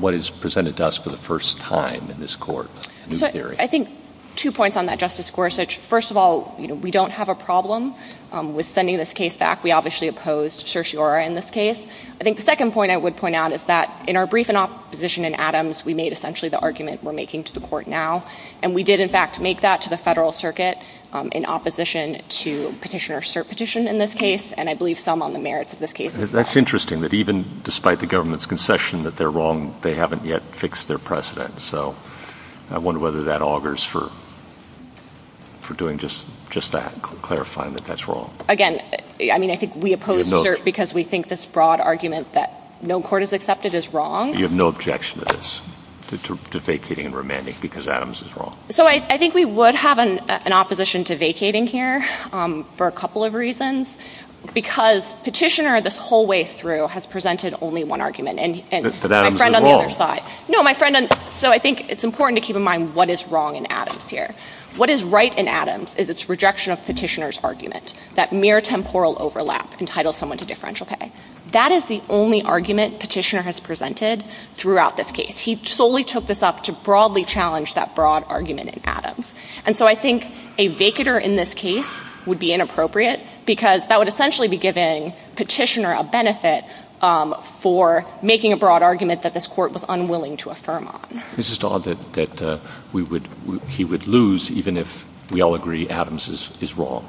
what is presented to us for the first time in this court? I think two points on that, Justice Gorsuch. First of all, we don't have a problem with sending this case back. We obviously oppose certiorari in this case. I think the second point I would point out is that in our brief in opposition in Adams, we made essentially the argument we're making to the court now, and we did, in fact, make that to the federal circuit in opposition to petitioner cert petition in this case, and I believe some on the merits of this case. That's interesting that even despite the government's concession that they're wrong, they haven't yet fixed their precedent. So I wonder whether that augurs for doing just that, clarifying that that's wrong. Again, I mean, I think we oppose cert because we think this broad argument that no court has accepted is wrong. You have no objection to this, to vacating and remanding because Adams is wrong? So I think we would have an opposition to vacating here for a couple of reasons, because petitioner this whole way through has presented only one argument. But Adams is wrong. No, my friend, so I think it's important to keep in mind what is wrong in Adams here. What is right in Adams is its rejection of petitioner's argument, that mere temporal overlap entitled someone to differential pay. That is the only argument petitioner has presented throughout this case. He solely took this up to broadly challenge that broad argument in Adams. And so I think a vacater in this case would be inappropriate because that would essentially be giving petitioner a benefit for making a broad argument that this court was unwilling to affirm on. Mrs. Dodd, that he would lose even if we all agree Adams is wrong.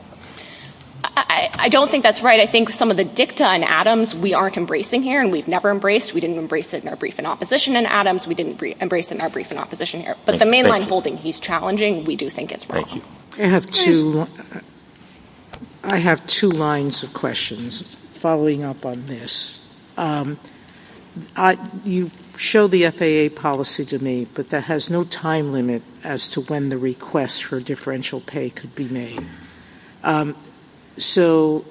I don't think that's right. I think some of the dicta in Adams we aren't embracing here and we've never embraced. We didn't embrace it in our brief in opposition in Adams. We didn't embrace it in our brief in opposition here. But the main line holding he's challenging, we do think it's wrong. I have two lines of questions following up on this. You show the FAA policy to me, but there has no time limit as to when the request for differential pay could be made. So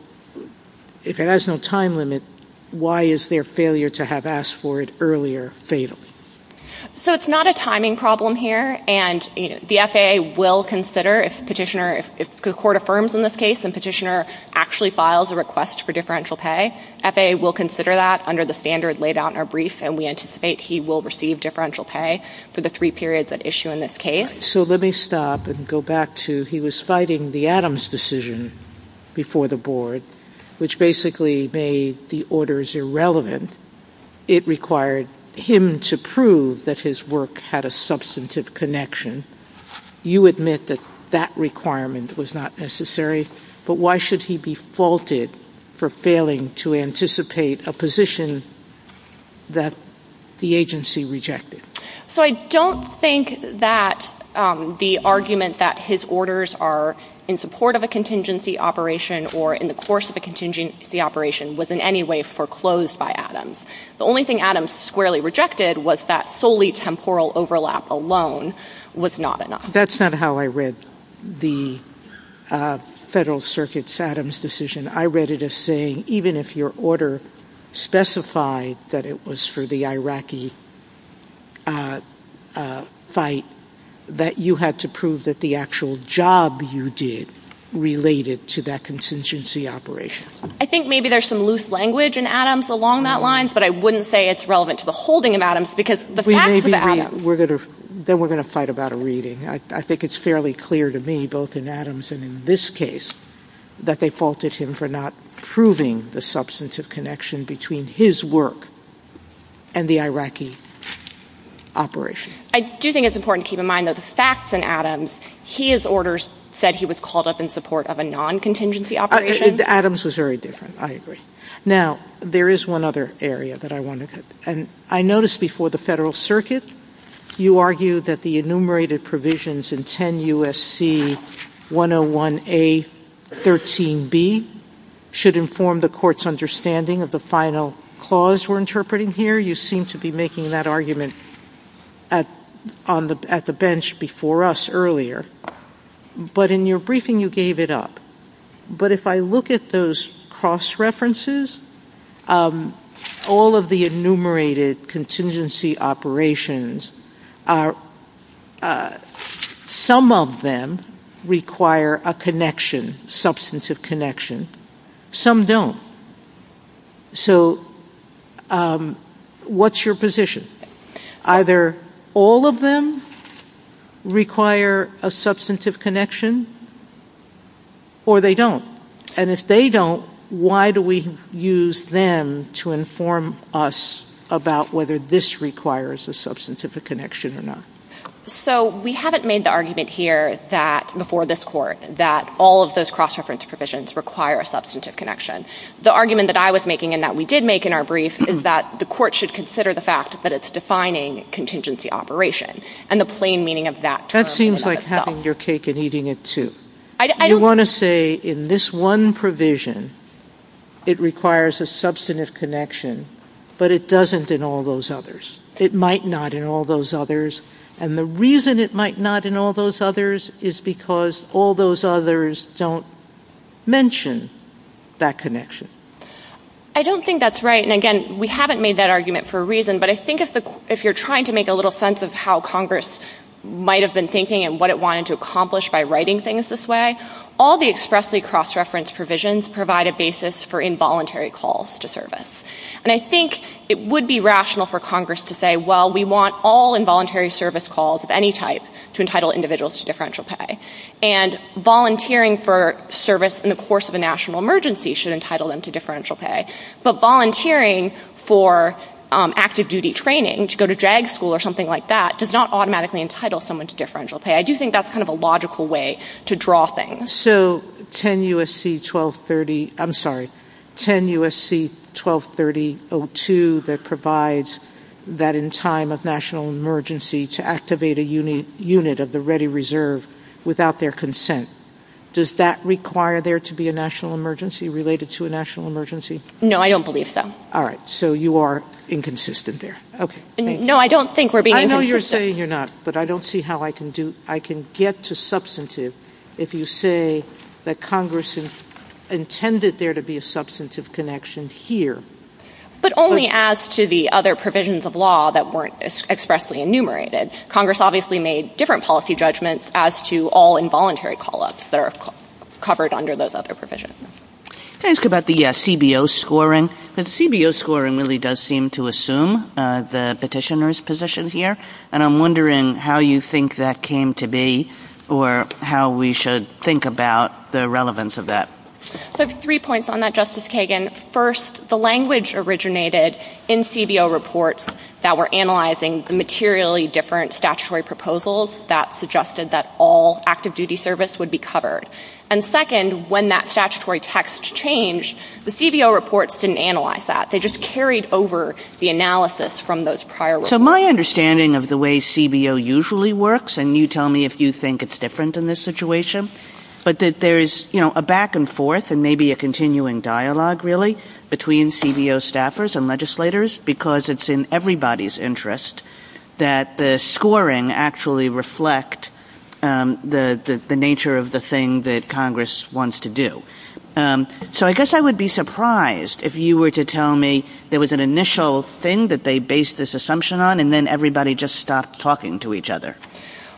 if it has no time limit, why is their failure to have asked for it earlier fatal? So it's not a timing problem here. And the FAA will consider if the court affirms in this case and petitioner actually files a request for differential pay, FAA will consider that under the standard laid out in our brief and we anticipate he will receive differential pay for the three periods at issue in this case. So let me stop and go back to the point that you made earlier where you said he was fighting the Adams decision before the board, which basically made the orders irrelevant. It required him to prove that his work had a substantive connection. You admit that that requirement was not necessary, but why should he be faulted for failing to anticipate a position that the agency rejected? So I don't think that the argument that his orders are in support of a contingency operation or in the course of a contingency operation was in any way foreclosed by Adams. The only thing Adams squarely rejected was that solely temporal overlap alone was not enough. That's not how I read the Federal Circuit's Adams decision. I read it as saying even if your order specified that it was for the Iraqi fight, that you had to prove that the actual job you did related to that contingency operation. I think maybe there's some loose language in Adams along that line, but I wouldn't say it's relevant to the holding of Adams because the facts of Adams... Then we're going to fight about a reading. I think it's fairly clear to me, both in Adams and in this case, that they faulted him for not proving the substantive connection between his work and the Iraqi operation. I do think it's important to keep in mind that the facts in Adams, his orders said he was called up in support of a non-contingency operation. Adams was very different. I agree. Now, there is one other area that I wanted to... I noticed before the Federal Circuit, you argued that the enumerated provisions in 10 U.S.C. 101A.13b should inform the court's understanding of the final clause we're interpreting here. You seem to be making that argument at the bench before us earlier. But in your briefing, you gave it up. But if I look at those cross-references, all of the enumerated contingency operations, some of them require a connection, substantive connection. Some don't. So what's your position? Either all of them require a substantive connection, or they don't. And if they don't, why do we use them to inform us about whether this requires a substantive connection or not? So we haven't made the argument here before this court that all of those cross-reference provisions require a substantive connection. The argument that I was making and that we did make in our brief is that the court should consider the fact that it's defining contingency operation and the plain meaning of that term. That seems like having your cake and eating it, too. You want to say in this one provision, it requires a substantive connection, but it doesn't in all those others. It might not in all those others. And the reason it might not in all those others is because all those others don't mention that connection. I don't think that's right. And again, we haven't made that argument for a reason. But I think if you're trying to make a little sense of how Congress might have been thinking and what it wanted to accomplish by writing things this way, all the expressly cross-referenced provisions provide a basis for involuntary calls to service. And I think it would be rational for Congress to say, well, we want all involuntary service calls of any type to entitle individuals to differential pay. And volunteering for service in the course of a national emergency should entitle them to differential pay. But volunteering for active duty training, to go to JAG school or something like that, does not automatically entitle someone to differential pay. I do think that's kind of a logical way to draw things. So 10 U.S.C. 1230-02 that provides that in time of national emergency to activate a unit of the ready reserve without their consent, does that require there to be a national emergency related to a national emergency? No, I don't believe so. All right. So you are inconsistent there. No, I don't think we're being inconsistent. I know you're saying you're not, but I don't see how I can get to substantive if you say that Congress intended there to be a substantive connection here. But only as to the other provisions of law that weren't expressly enumerated. Congress obviously made different policy judgments as to all involuntary call-ups that are covered under those other provisions. Can I ask about the CBO scoring? The CBO scoring really does seem to assume the petitioner's position here, and I'm wondering how you think that came to be or how we should think about the relevance of that. I have three points on that, Justice Kagan. First, the language originated in CBO reports that were analyzing materially different statutory proposals that suggested that all active duty service would be covered. And second, when that statutory text changed, the CBO reports didn't analyze that. They just carried over the analysis from those prior reports. So my understanding of the way CBO usually works, and you tell me if you think it's different in this situation, but that there's a back and forth and maybe a continuing dialogue, really, between CBO staffers and legislators because it's in everybody's interest that the scoring actually reflect the nature of the thing that Congress wants to do. So I guess I would be surprised if you were to tell me there was an initial thing that they based this assumption on and then everybody just stopped talking to each other.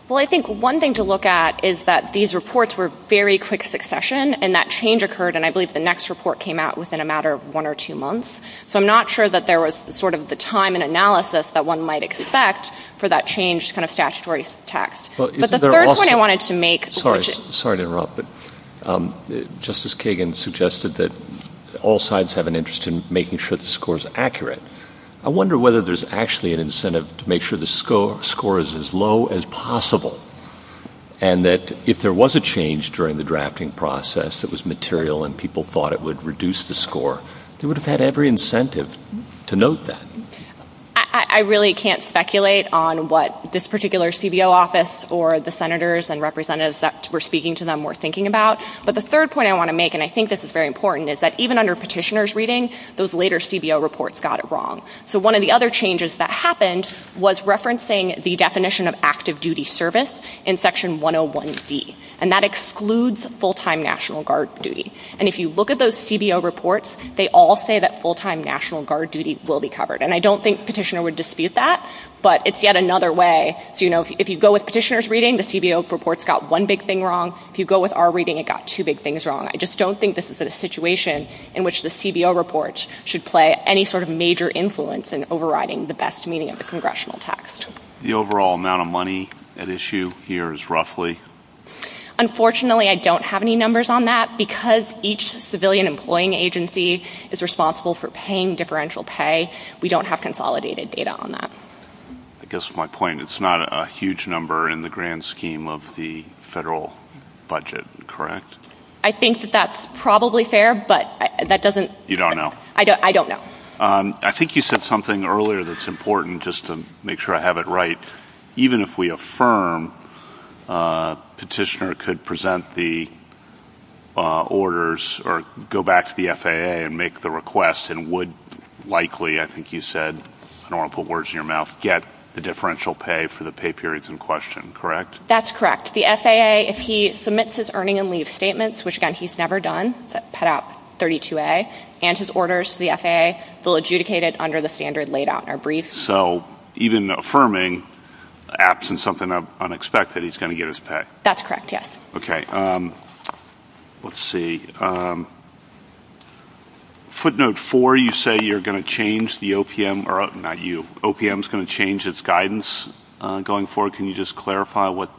Well, I think one thing to look at is that these reports were very quick succession and that change occurred, and I believe the next report came out within a matter of one or two months. So I'm not sure that there was sort of the time and analysis that one might expect for that changed kind of statutory text. But the third point I wanted to make... Sorry to interrupt, but Justice Kagan suggested that all sides have an interest in making sure the score is accurate. I wonder whether there's actually an incentive to make sure the score is as low as possible and that if there was a change during the drafting process that was material and people thought it would reduce the score, they would have had every incentive to note that. I really can't speculate on what this particular CBO office or the senators and representatives that were speaking to them were thinking about. But the third point I want to make, and I think this is very important, is that even under petitioner's reading, those later CBO reports got it wrong. So one of the other changes that happened was referencing the definition of active duty service in Section 101C, and that excludes full-time National Guard duty. And if you look at those CBO reports, they all say that full-time National Guard duty will be covered. And I don't think the petitioner would dispute that, but it's yet another way... If you go with petitioner's reading, the CBO reports got one big thing wrong. If you go with our reading, it got two big things wrong. I just don't think this is a situation in which the CBO reports should play any sort of major influence in overriding the best meaning of the congressional text. The overall amount of money at issue here is roughly? Unfortunately, I don't have any numbers on that. Because each civilian employing agency is responsible for paying differential pay, we don't have consolidated data on that. I guess my point is it's not a huge number in the grand scheme of the federal budget, correct? I think that that's probably fair, but that doesn't... You don't know? I don't know. I think you said something earlier that's important, just to make sure I have it right. Even if we affirm petitioner could present the orders or go back to the FAA and make the request and would likely, I think you said, I don't want to put words in your mouth, get the differential pay for the pay periods in question, correct? That's correct. The FAA, if he submits his earning and leave statements, which, again, he's never done, put out 32A, and his orders to the FAA, they'll adjudicate it under the standard laid out or briefed. So even affirming, absent something unexpected, he's going to get his pay? That's correct, yes. Okay. Let's see. Footnote 4, you say you're going to change the OPM, or not you, OPM's going to change its guidance going forward. Can you just clarify what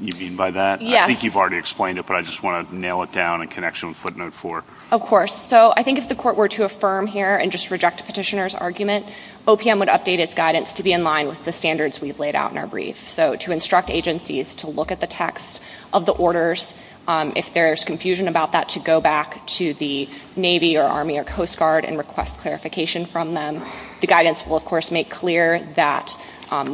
you mean by that? I think you've already explained it, but I just want to nail it down in connection with footnote 4. Of course. So I think if the court were to affirm here and just reject the petitioner's argument, OPM would update its guidance to be in line with the standards we've laid out in our brief. So to instruct agencies to look at the text of the orders. If there's confusion about that, to go back to the Navy or Army or Coast Guard and request clarification from them. The guidance will, of course, make clear that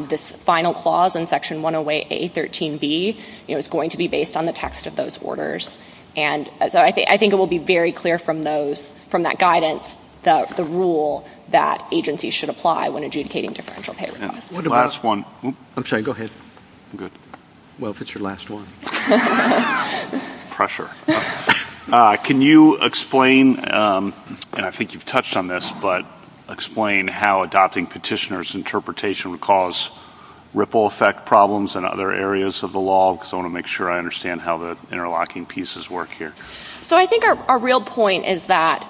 this final clause in Section 108A.13b is going to be based on the text of those orders. And so I think it will be very clear from that guidance the rule that agencies should apply when adjudicating differential pay requests. Last one. I'm sorry, go ahead. Well, if it's your last one. Pressure. Can you explain, and I think you've touched on this, but explain how adopting petitioner's interpretation would cause ripple effect problems in other areas of the law? Because I want to make sure I understand how the interlocking pieces work here. So I think our real point is that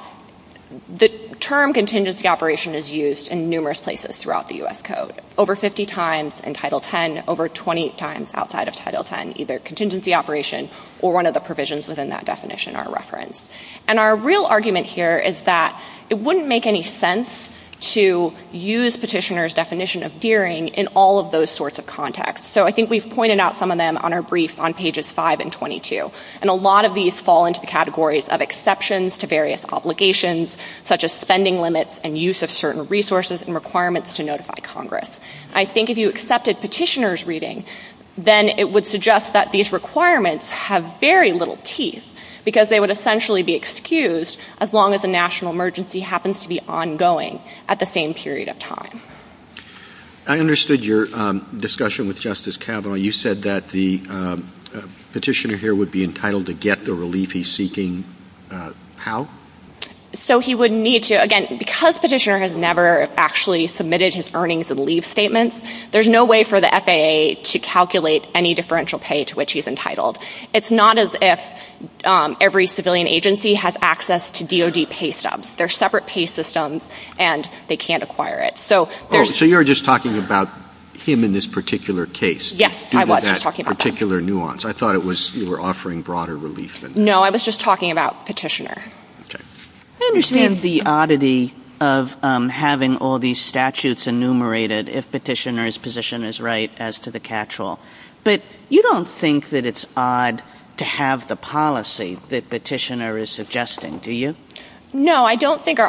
the term contingency operation is used in numerous places throughout the U.S. Code. Over 50 times in Title X, over 20 times outside of Title X, either contingency operation or one of the provisions within that definition are referenced. And our real argument here is that it wouldn't make any sense to use petitioner's definition of dearing in all of those sorts of contexts. So I think we've pointed out some of them on our brief on pages 5 and 22. And a lot of these fall into the categories of exceptions to various obligations such as spending limits and use of certain resources and requirements to notify Congress. I think if you accepted petitioner's reading, then it would suggest that these requirements have very little teeth because they would essentially be excused as long as a national emergency happens to be ongoing at the same period of time. I understood your discussion with Justice Kavanaugh. You said that the petitioner here would be entitled to get the relief he's seeking. How? So he would need to, again, because petitioner has never actually submitted his earnings and leave statements, there's no way for the FAA to calculate any differential pay to which he's entitled. It's not as if every civilian agency has access to DOD pay stubs. They're separate pay systems and they can't acquire it. So you're just talking about him in this particular case. Yes, I was talking about that. Due to that particular nuance. I thought you were offering broader relief than that. No, I was just talking about petitioner. Okay. I understand the oddity of having all these statutes enumerated if petitioner's position is right as to the catch-all. But you don't think that it's odd to have the policy that petitioner is suggesting, do you? No, I don't think our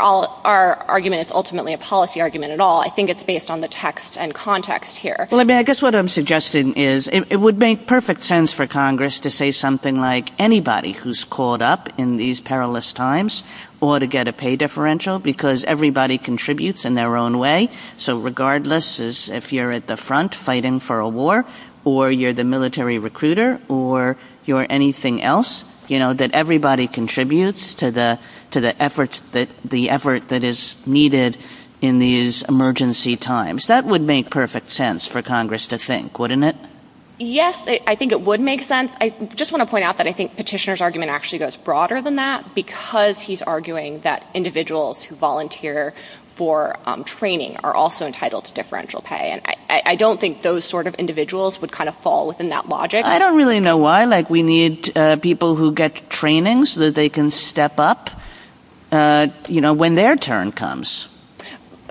argument is ultimately a policy argument at all. I think it's based on the text and context here. I guess what I'm suggesting is it would make perfect sense for Congress to say something like anybody who's called up in these perilous times ought to get a pay differential because everybody contributes in their own way. So regardless if you're at the front fighting for a war or you're the military recruiter or you're anything else, that everybody contributes to the effort that is needed in these emergency times. That would make perfect sense for Congress to think, wouldn't it? Yes, I think it would make sense. I just want to point out that I think petitioner's argument actually goes broader than that because he's arguing that individuals who volunteer for training are also entitled to differential pay. I don't think those sort of individuals would kind of fall within that logic. I don't really know why. We need people who get training so that they can step up when their turn comes.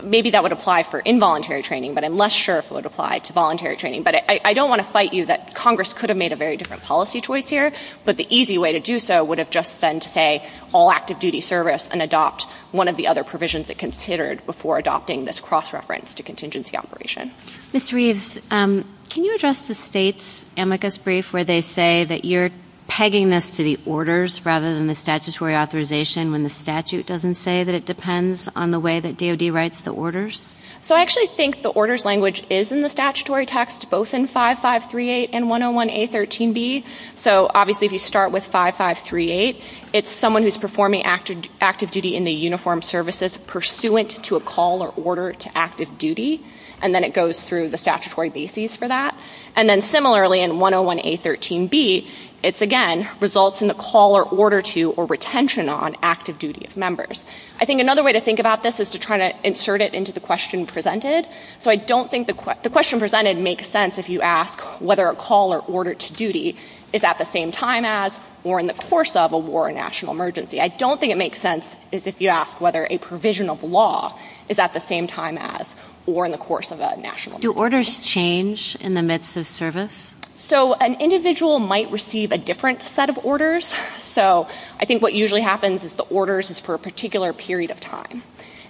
Maybe that would apply for involuntary training, but I'm less sure if it would apply to voluntary training. But I don't want to fight you that Congress could have made a very different policy choice here, but the easy way to do so would have just been to say all active duty service and adopt one of the other provisions it considered before adopting this cross-reference to contingency operation. Mr. Reeves, can you address the state's amicus brief where they say that you're pegging this to the orders rather than the statutory authorization when the statute doesn't say that it depends on the way that DOD writes the orders? So I actually think the orders language is in the statutory text, both in 5538 and 101A13B. So obviously if you start with 5538, it's someone who's performing active duty in the uniformed services pursuant to a call or order to active duty, and then it goes through the statutory bases for that. And then similarly in 101A13B, it again results in a call or order to or retention on active duty of members. I think another way to think about this is to try to insert it into the question presented. So I don't think the question presented makes sense if you ask whether a call or order to duty is at the same time as or in the course of a war or national emergency. I don't think it makes sense if you ask whether a provision of law is at the same time as or in the course of a national emergency. Do orders change in the midst of service? So an individual might receive a different set of orders. So I think what usually happens is the orders is for a particular period of time.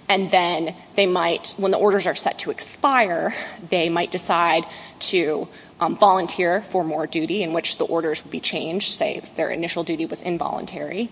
And then they might, when the orders are set to expire, they might decide to volunteer for more duty in which the orders would be changed, say their initial duty was involuntary,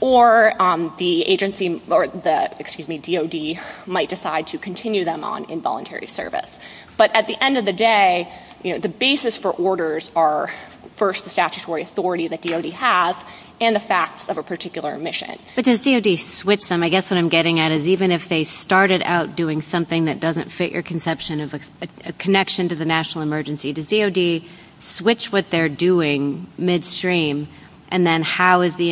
or the agency, or the, excuse me, DOD, might decide to continue them on involuntary service. But at the end of the day, the basis for orders are, first, the statutory authority that DOD has and the facts of a particular mission. But does DOD switch them? I guess what I'm getting at is even if they started out doing something that doesn't fit your conception of a connection to the national emergency, does DOD switch what they're doing midstream and then how is the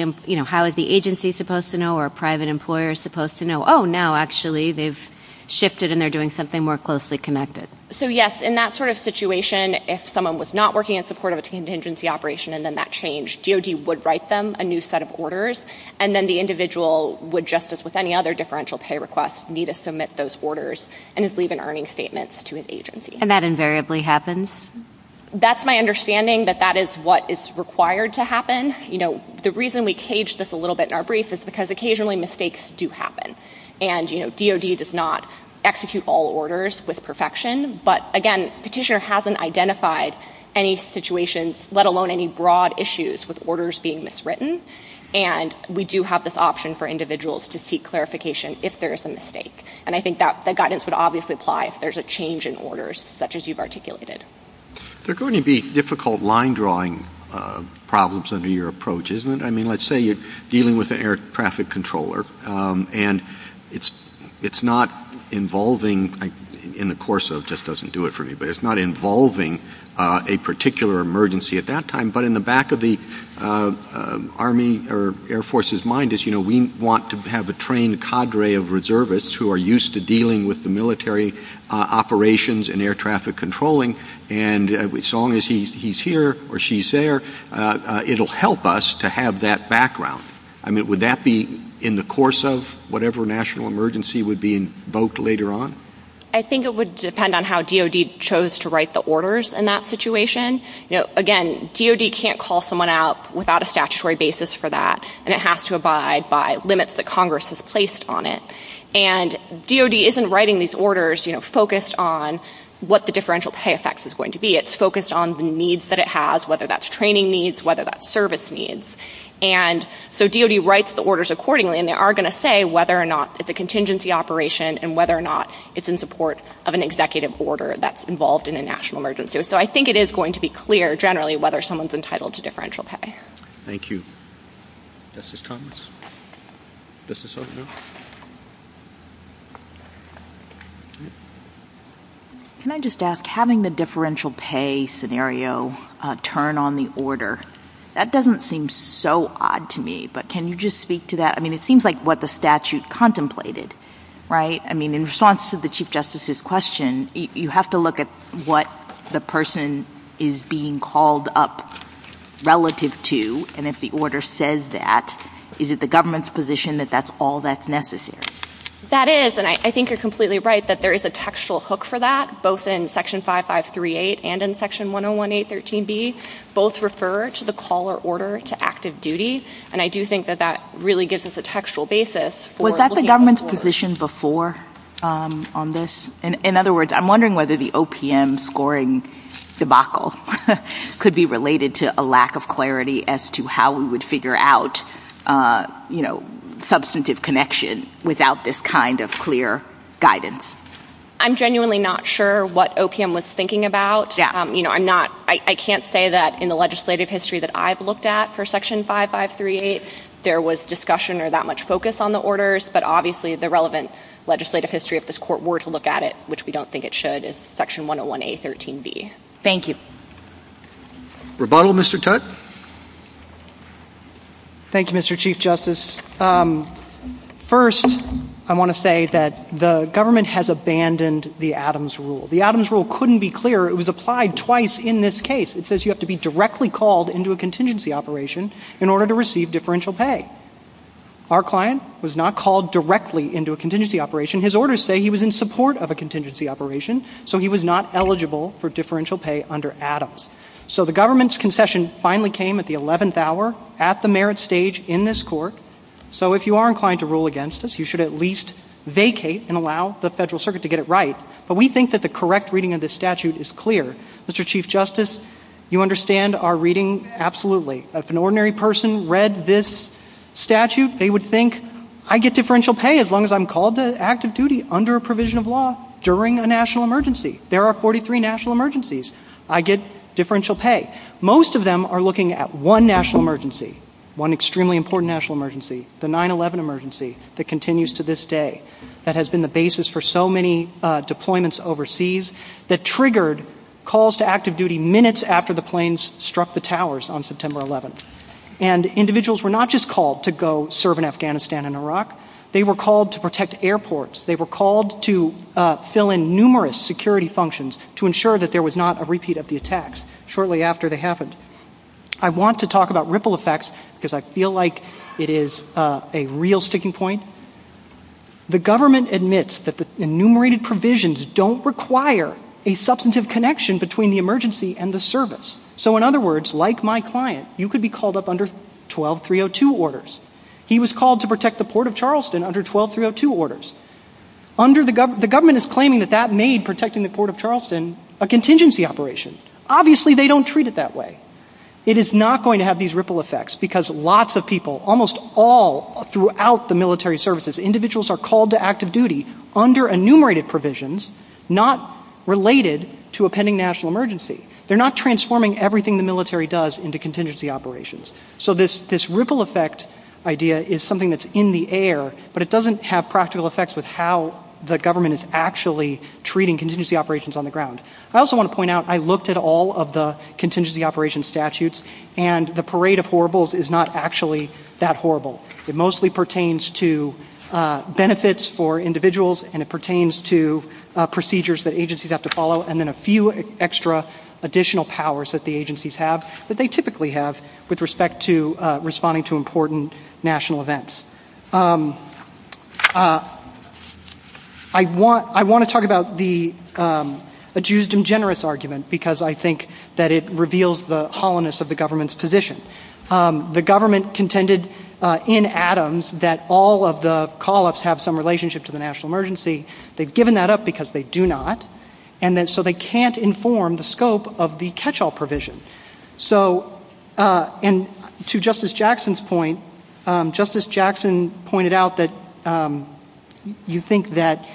agency supposed to know or a private employer supposed to know? Oh, now actually they've shifted and they're doing something more closely connected. So yes, in that sort of situation, if someone was not working in support of a contingency operation and then that changed, DOD would write them a new set of orders and then the individual would, just as with any other differential pay request, need to submit those orders and just leave an earning statement to an agency. And that invariably happens? That's my understanding, that that is what is required to happen. The reason we cage this a little bit in our brief is because occasionally mistakes do happen. And DOD does not execute all orders with perfection. But again, Petitioner hasn't identified any situations, let alone any broad issues with orders being miswritten. And we do have this option for individuals to seek clarification if there is a mistake. And I think that guidance would obviously apply if there's a change in orders such as you've articulated. There are going to be difficult line drawing problems under your approach, isn't it? I mean, let's say you're dealing with an air traffic controller and it's not involving, in the course of, this doesn't do it for me, but it's not involving a particular emergency at that time. But in the back of the Army or Air Force's mind is, you know, we want to have a trained cadre of reservists who are used to dealing with the military operations and air traffic controlling. And as long as he's here or she's there, it'll help us to have that background. I mean, would that be in the course of whatever national emergency would be invoked later on? I think it would depend on how DOD chose to write the orders in that situation. Again, DOD can't call someone out without a statutory basis for that, and it has to abide by limits that Congress has placed on it. And DOD isn't writing these orders, you know, focused on what the differential pay effects is going to be. It's focused on the needs that it has, whether that's training needs, whether that's service needs. And so DOD writes the orders accordingly, and they are going to say whether or not it's a contingency operation and whether or not it's in support of an executive order that's involved in a national emergency. So I think it is going to be clear, generally, whether someone's entitled to differential pay. Thank you. Justice Thomas? Justice O'Connor? Can I just ask, having the differential pay scenario turn on the order, that doesn't seem so odd to me, but can you just speak to that? I mean, it seems like what the statute contemplated, right? I mean, in response to the Chief Justice's question, you have to look at what the person is being called up relative to, and if the order says that, is it the government's position that that's all that's necessary? That is, and I think you're completely right that there is a textual hook for that, both in Section 5538 and in Section 101A.13b. Both refer to the call or order to active duty, and I do think that that really gives us a textual basis. Was that the government's position before on this? In other words, I'm wondering whether the OPM scoring debacle could be related to a lack of clarity as to how we would figure out substantive connection without this kind of clear guidance. I'm genuinely not sure what OPM was thinking about. I can't say that in the legislative history that I've looked at for Section 5538 there was discussion or that much focus on the orders, but obviously the relevant legislative history, if this Court were to look at it, which we don't think it should, is Section 101A.13b. Thank you. Rebuttal, Mr. Tutte? Thank you, Mr. Chief Justice. First, I want to say that the government has abandoned the Adams rule. The Adams rule couldn't be clearer. It was applied twice in this case. It says you have to be directly called into a contingency operation in order to receive differential pay. Our client was not called directly into a contingency operation. His orders say he was in support of a contingency operation, so he was not eligible for differential pay under Adams. So the government's concession finally came at the 11th hour, at the merit stage in this Court. So if you are inclined to rule against us, you should at least vacate and allow the Federal Circuit to get it right. But we think that the correct reading of this statute is clear. Mr. Chief Justice, you understand our reading absolutely. If an ordinary person read this statute, they would think, I get differential pay as long as I'm called to active duty under a provision of law during a national emergency. There are 43 national emergencies. I get differential pay. Most of them are looking at one national emergency, one extremely important national emergency, the 9-11 emergency that continues to this day, that has been the basis for so many deployments overseas. It triggered calls to active duty minutes after the planes struck the towers on September 11th. And individuals were not just called to go serve in Afghanistan and Iraq. They were called to protect airports. They were called to fill in numerous security functions to ensure that there was not a repeat of the attacks shortly after they happened. I want to talk about ripple effects because I feel like it is a real sticking point. The government admits that the enumerated provisions don't require a substantive connection between the emergency and the service. So in other words, like my client, you could be called up under 12-302 orders. He was called to protect the Port of Charleston under 12-302 orders. The government is claiming that that made protecting the Port of Charleston a contingency operation. Obviously, they don't treat it that way. It is not going to have these ripple effects because lots of people, almost all throughout the military services, individuals are called to active duty under enumerated provisions not related to a pending national emergency. They are not transforming everything the military does into contingency operations. So this ripple effect idea is something that is in the air, but it doesn't have practical effects with how the government is actually treating contingency operations on the ground. I also want to point out, I looked at all of the contingency operations statutes and the parade of horribles is not actually that horrible. It mostly pertains to benefits for individuals and it pertains to procedures that agencies have to follow and then a few extra additional powers that the agencies have that they typically have with respect to responding to important national events. I want to talk about the adjust and generous argument because I think that it reveals the hollowness of the government's position. The government contended in Adams that all of the call-ups have some relationship to the national emergency. They've given that up because they do not and so they can't inform the scope of the catch-all provision. To Justice Jackson's point, Justice Jackson pointed out that you think that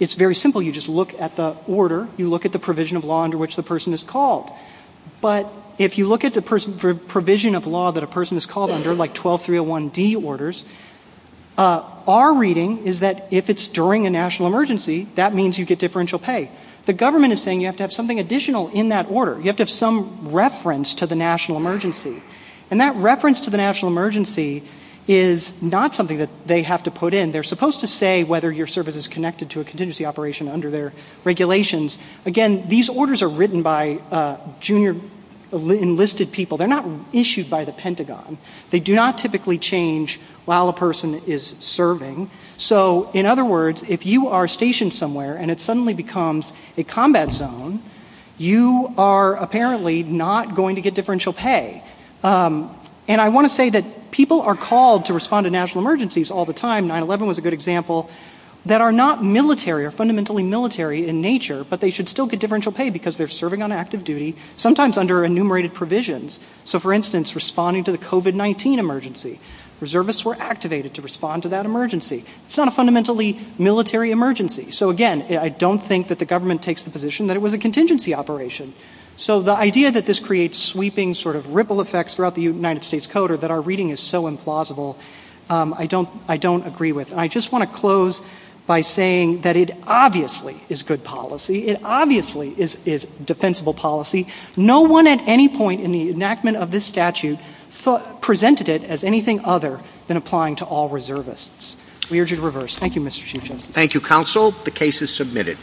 it's very simple, you just look at the order, you look at the provision of law under which the person is called. But if you look at the provision of law that a person is called under, like 12301D orders, our reading is that if it's during a national emergency, that means you get differential pay. The government is saying you have to have something additional in that order. You have to have some reference to the national emergency and that reference to the national emergency is not something that they have to put in. They're supposed to say whether your service is connected to a contingency operation under their regulations. Again, these orders are written by junior enlisted people. They're not issued by the Pentagon. They do not typically change while a person is serving. So, in other words, if you are stationed somewhere and it suddenly becomes a combat zone, you are apparently not going to get differential pay. And I want to say that people are called to respond to national emergencies all the time. 9-11 was a good example. There are people that are not military or fundamentally military in nature, but they should still get differential pay because they're serving on active duty, sometimes under enumerated provisions. So, for instance, responding to the COVID-19 emergency. Reservists were activated to respond to that emergency. It's not a fundamentally military emergency. So, again, I don't think that the government takes the position that it was a contingency operation. So, the idea that this creates sweeping, sort of ripple effects throughout the United States code or that our reading is so implausible, I don't agree with. I just want to close by saying that it obviously is good policy. It obviously is defensible policy. No one at any point in the enactment of this statute presented it as anything other than applying to all reservists. We urge you to reverse. Thank you, Mr. Chief Justice. Thank you, counsel. The case is submitted.